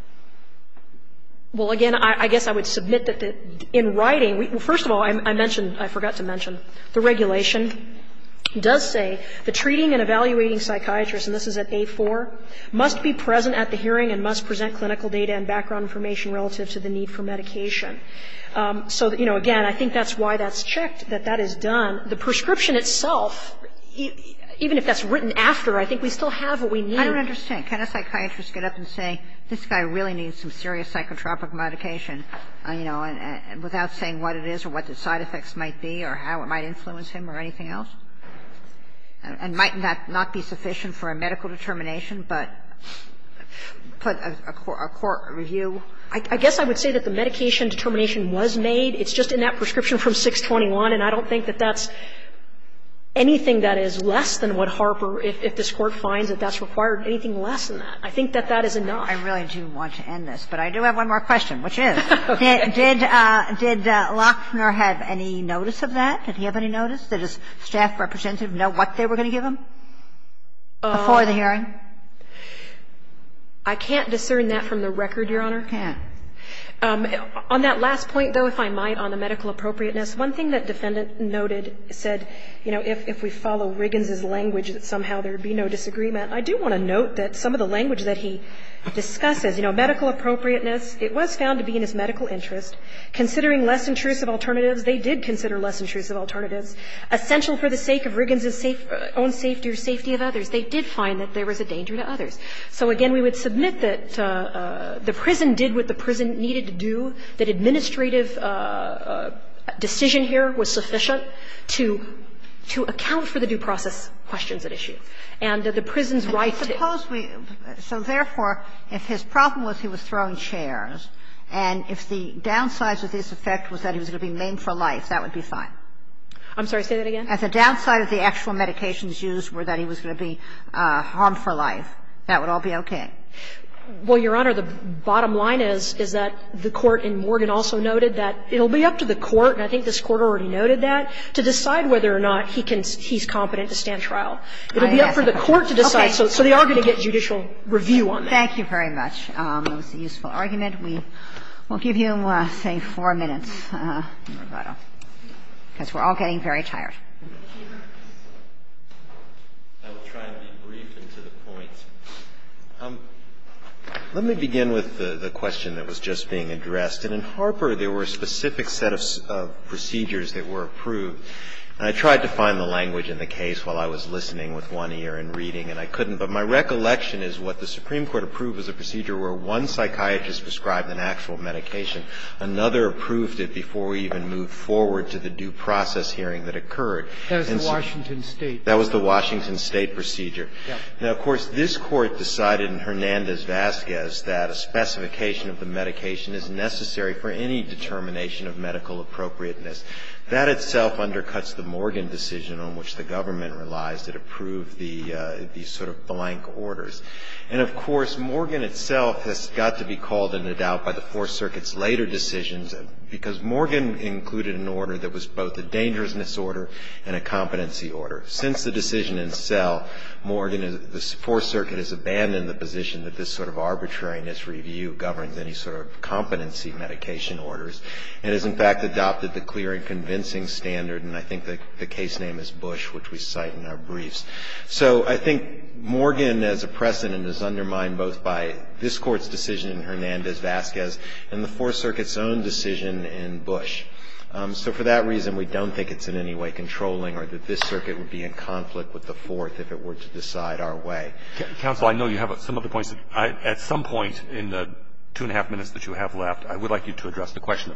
Well, again, I guess I would submit that in writing, first of all, I mentioned, I forgot to mention, the regulation does say the treating and evaluating psychiatrist, and this is at day four, must be present at the hearing and must present clinical data and background information relative to the need for medication. So, you know, again, I think that's why that's checked, that that is done. The prescription itself, even if that's written after, I think we still have what we need. I don't understand. Can a psychiatrist get up and say, this guy really needs some serious psychotropic medication, you know, without saying what it is or what the side effects might be or how it might influence him or anything else? And might that not be sufficient for a medical determination, but a court review? I guess I would say that the medication determination was made. It's just in that prescription from 621, and I don't think that that's anything that is less than what Harper, if this court finds that that's required, anything less than that. I think that that is enough. I really do want to end this, but I do have one more question, which is, did Loxner have any notice of that? Did he have any notice? Did his staff representative know what they were going to give him before the hearing? I can't discern that from the record, Your Honor. You can't. On that last point, though, if I might, on the medical appropriateness, one thing that defendants noted said, you know, if we follow Riggins's language, that somehow there would be no disagreement. I do want to note that some of the language that he discusses, you know, medical appropriateness, it was found to be in his medical interest. Considering less intrusive alternatives, they did consider less intrusive alternatives, essential for the sake of Riggins's own safety or safety of others. They did find that there was a danger to others. So, again, we would submit that the prison did what the prison needed to do, that administrative decision here was sufficient to account for the due process questions at issue. And that the prison's rights of the... Suppose we... So, therefore, if his problem was he was thrown chairs, and if the downsides of this effect was that he was going to be maimed for life, that would be fine. I'm sorry, say that again. If the downsides of the actual medications used were that he was going to be harmed for life, that would all be okay. Well, Your Honor, the bottom line is that the court in Morgan also noted that it will be up to the court, and I think this court already noted that, to decide whether or not he's competent to stand trial. It will be up for the court to decide, so they are going to get judicial review on that. Thank you very much. That was a useful argument. We'll give you, say, four minutes. Because we're all getting very tired. Let me begin with the question that was just being addressed. And in Harper, there were specific set of procedures that were approved, and I tried to find the language in the case while I was listening with one ear and reading, and I couldn't. But my recollection is what the Supreme Court approved was a procedure where one psychiatrist described an actual medication. Another approved it before we even moved forward to the due process hearing that occurred. That was in Washington State. That was the Washington State procedure. Yes. Now, of course, this court decided in Hernandez-Vazquez that a specification of the medication is necessary for any determination of medical appropriateness. That itself undercuts the Morgan decision on which the government relies to approve these sort of blank orders. And, of course, Morgan itself has got to be called into doubt by the Fourth Circuit's later decisions, because Morgan included an order that was both a dangerousness order and a competency order. Since the decision in Sell, Morgan and the Fourth Circuit has abandoned the position that this sort of arbitrariness review governs any sort of competency medication orders. It has, in fact, adopted the clear and convincing standard, and I think the case name is Bush, which we cite in our briefs. So I think Morgan as a precedent is undermined both by this court's decision in Hernandez-Vazquez and the Fourth Circuit's own decision in Bush. So for that reason, we don't think it's in any way controlling or that this circuit would be in conflict with the Fourth if it were to decide our way. Counsel, I know you have some other points. At some point in the two and a half minutes that you have left, I would like you to address the question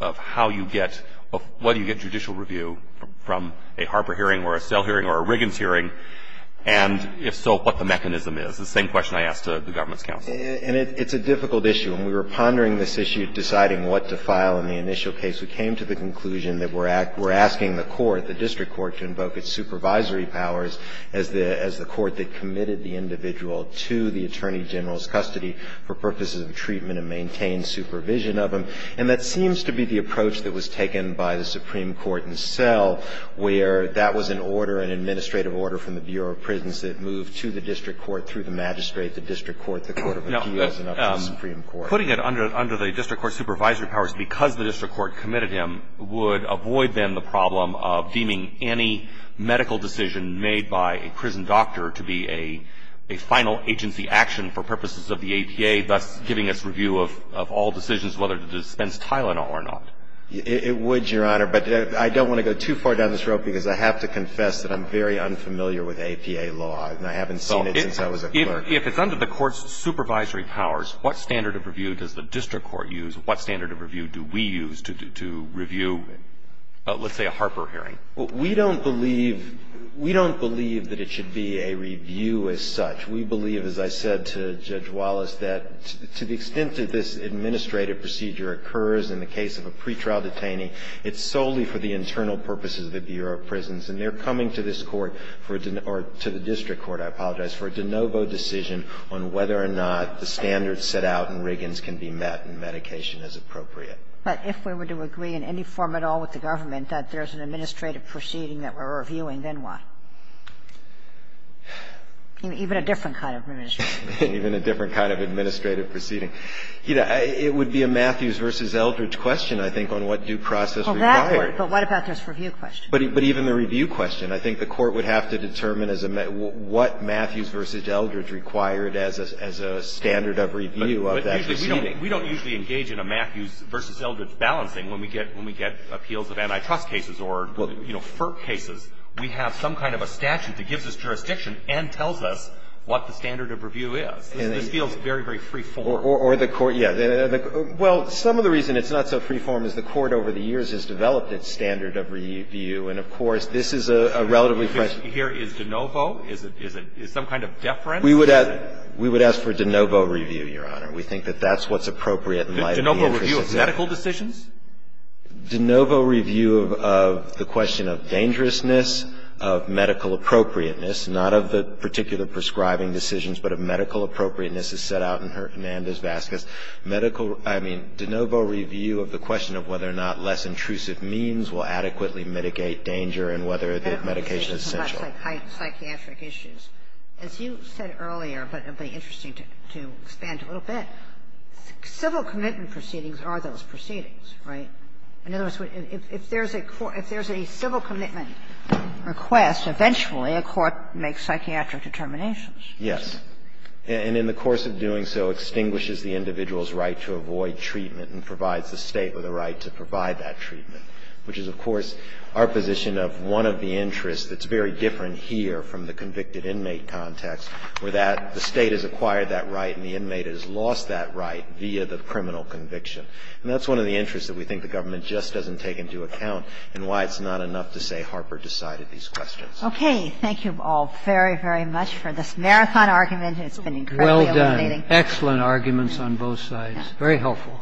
of how you get or whether you get judicial review from a Harper hearing or a Sell hearing or a Riggins hearing, and if so, what the mechanism is, the same question I asked the government's counsel. And it's a difficult issue. When we were pondering this issue of deciding what to file in the initial case, we came to the conclusion that we're asking the court, the district court, to invoke its supervisory powers as the court that committed the individual to the attorney general's custody for purposes of treatment and maintained supervision of him. And that seems to be the approach that was taken by the Supreme Court itself, where that was an order, an administrative order from the Bureau of Prisons that moved to the district court, through the magistrate, the district court, the court of appeals, and up to the Supreme Court. So putting it under the district court's supervisory powers because the district court committed him would avoid then the problem of deeming any medical decision made by a prison doctor to be a final agency action for purposes of the APA, thus giving us review of all decisions whether to dispense Tylenol or not. It would, Your Honor, but I don't want to go too far down the stroke because I have to confess that I'm very unfamiliar with APA law, If it's under the court's supervisory powers, what standard of review does the district court use? What standard of review do we use to review, let's say, a Harper hearing? We don't believe that it should be a review as such. We believe, as I said to Judge Wallace, that to the extent that this administrative procedure occurs in the case of a pretrial detainee, it's solely for the internal purposes of the Bureau of Prisons. And they're coming to this court, or to the district court, I apologize, for a de novo decision on whether or not the standards set out in Riggins can be met in medication as appropriate. But if we were to agree in any form at all with the government that there's an administrative proceeding that we're reviewing, then what? Even a different kind of administrative proceeding. Even a different kind of administrative proceeding. You know, it would be a Matthews versus Eldridge question, I think, on what due process we're talking about. But what about those review questions? But even the review question, I think the court would have to determine what Matthews versus Eldridge required as a standard of review of that proceeding. We don't usually engage in a Matthews versus Eldridge balancing when we get appeals of antitrust cases or FERC cases. We have some kind of a statute that gives us jurisdiction and tells us what the standard of review is. It just feels very, very freeform. Or the court, yeah. Well, some of the reason it's not so freeform is the court over the years has developed its standard of review. And, of course, this is a relatively fresh question. Here is de novo? Is it some kind of deference? We would ask for de novo review, Your Honor. We think that that's what's appropriate. De novo review of medical decisions? De novo review of the question of dangerousness, of medical appropriateness. Not of the particular prescribing decisions, but of medical appropriateness is set out in Hernandez-Vasquez. Medical, I mean, de novo review of the question of whether or not less intrusive means will adequately mitigate danger and whether the medication is essential. Psychiatric issues. As you said earlier, but it would be interesting to expand a little bit, civil commitment proceedings are those proceedings, right? If there's a civil commitment request, eventually a court makes psychiatric determinations. Yes. And in the course of doing so, extinguishes the individual's right to avoid treatment and provides the state with a right to provide that treatment, which is, of course, our position of one of the interests that's very different here from the convicted inmate context, where the state has acquired that right and the inmate has lost that right via the criminal conviction. And that's one of the interests that we think the government just doesn't take into account and why it's not enough to say Harper decided these questions. Okay. Thank you all very, very much for this marathon argument. It's been incredibly illuminating. Well done. Excellent arguments on both sides. Very helpful.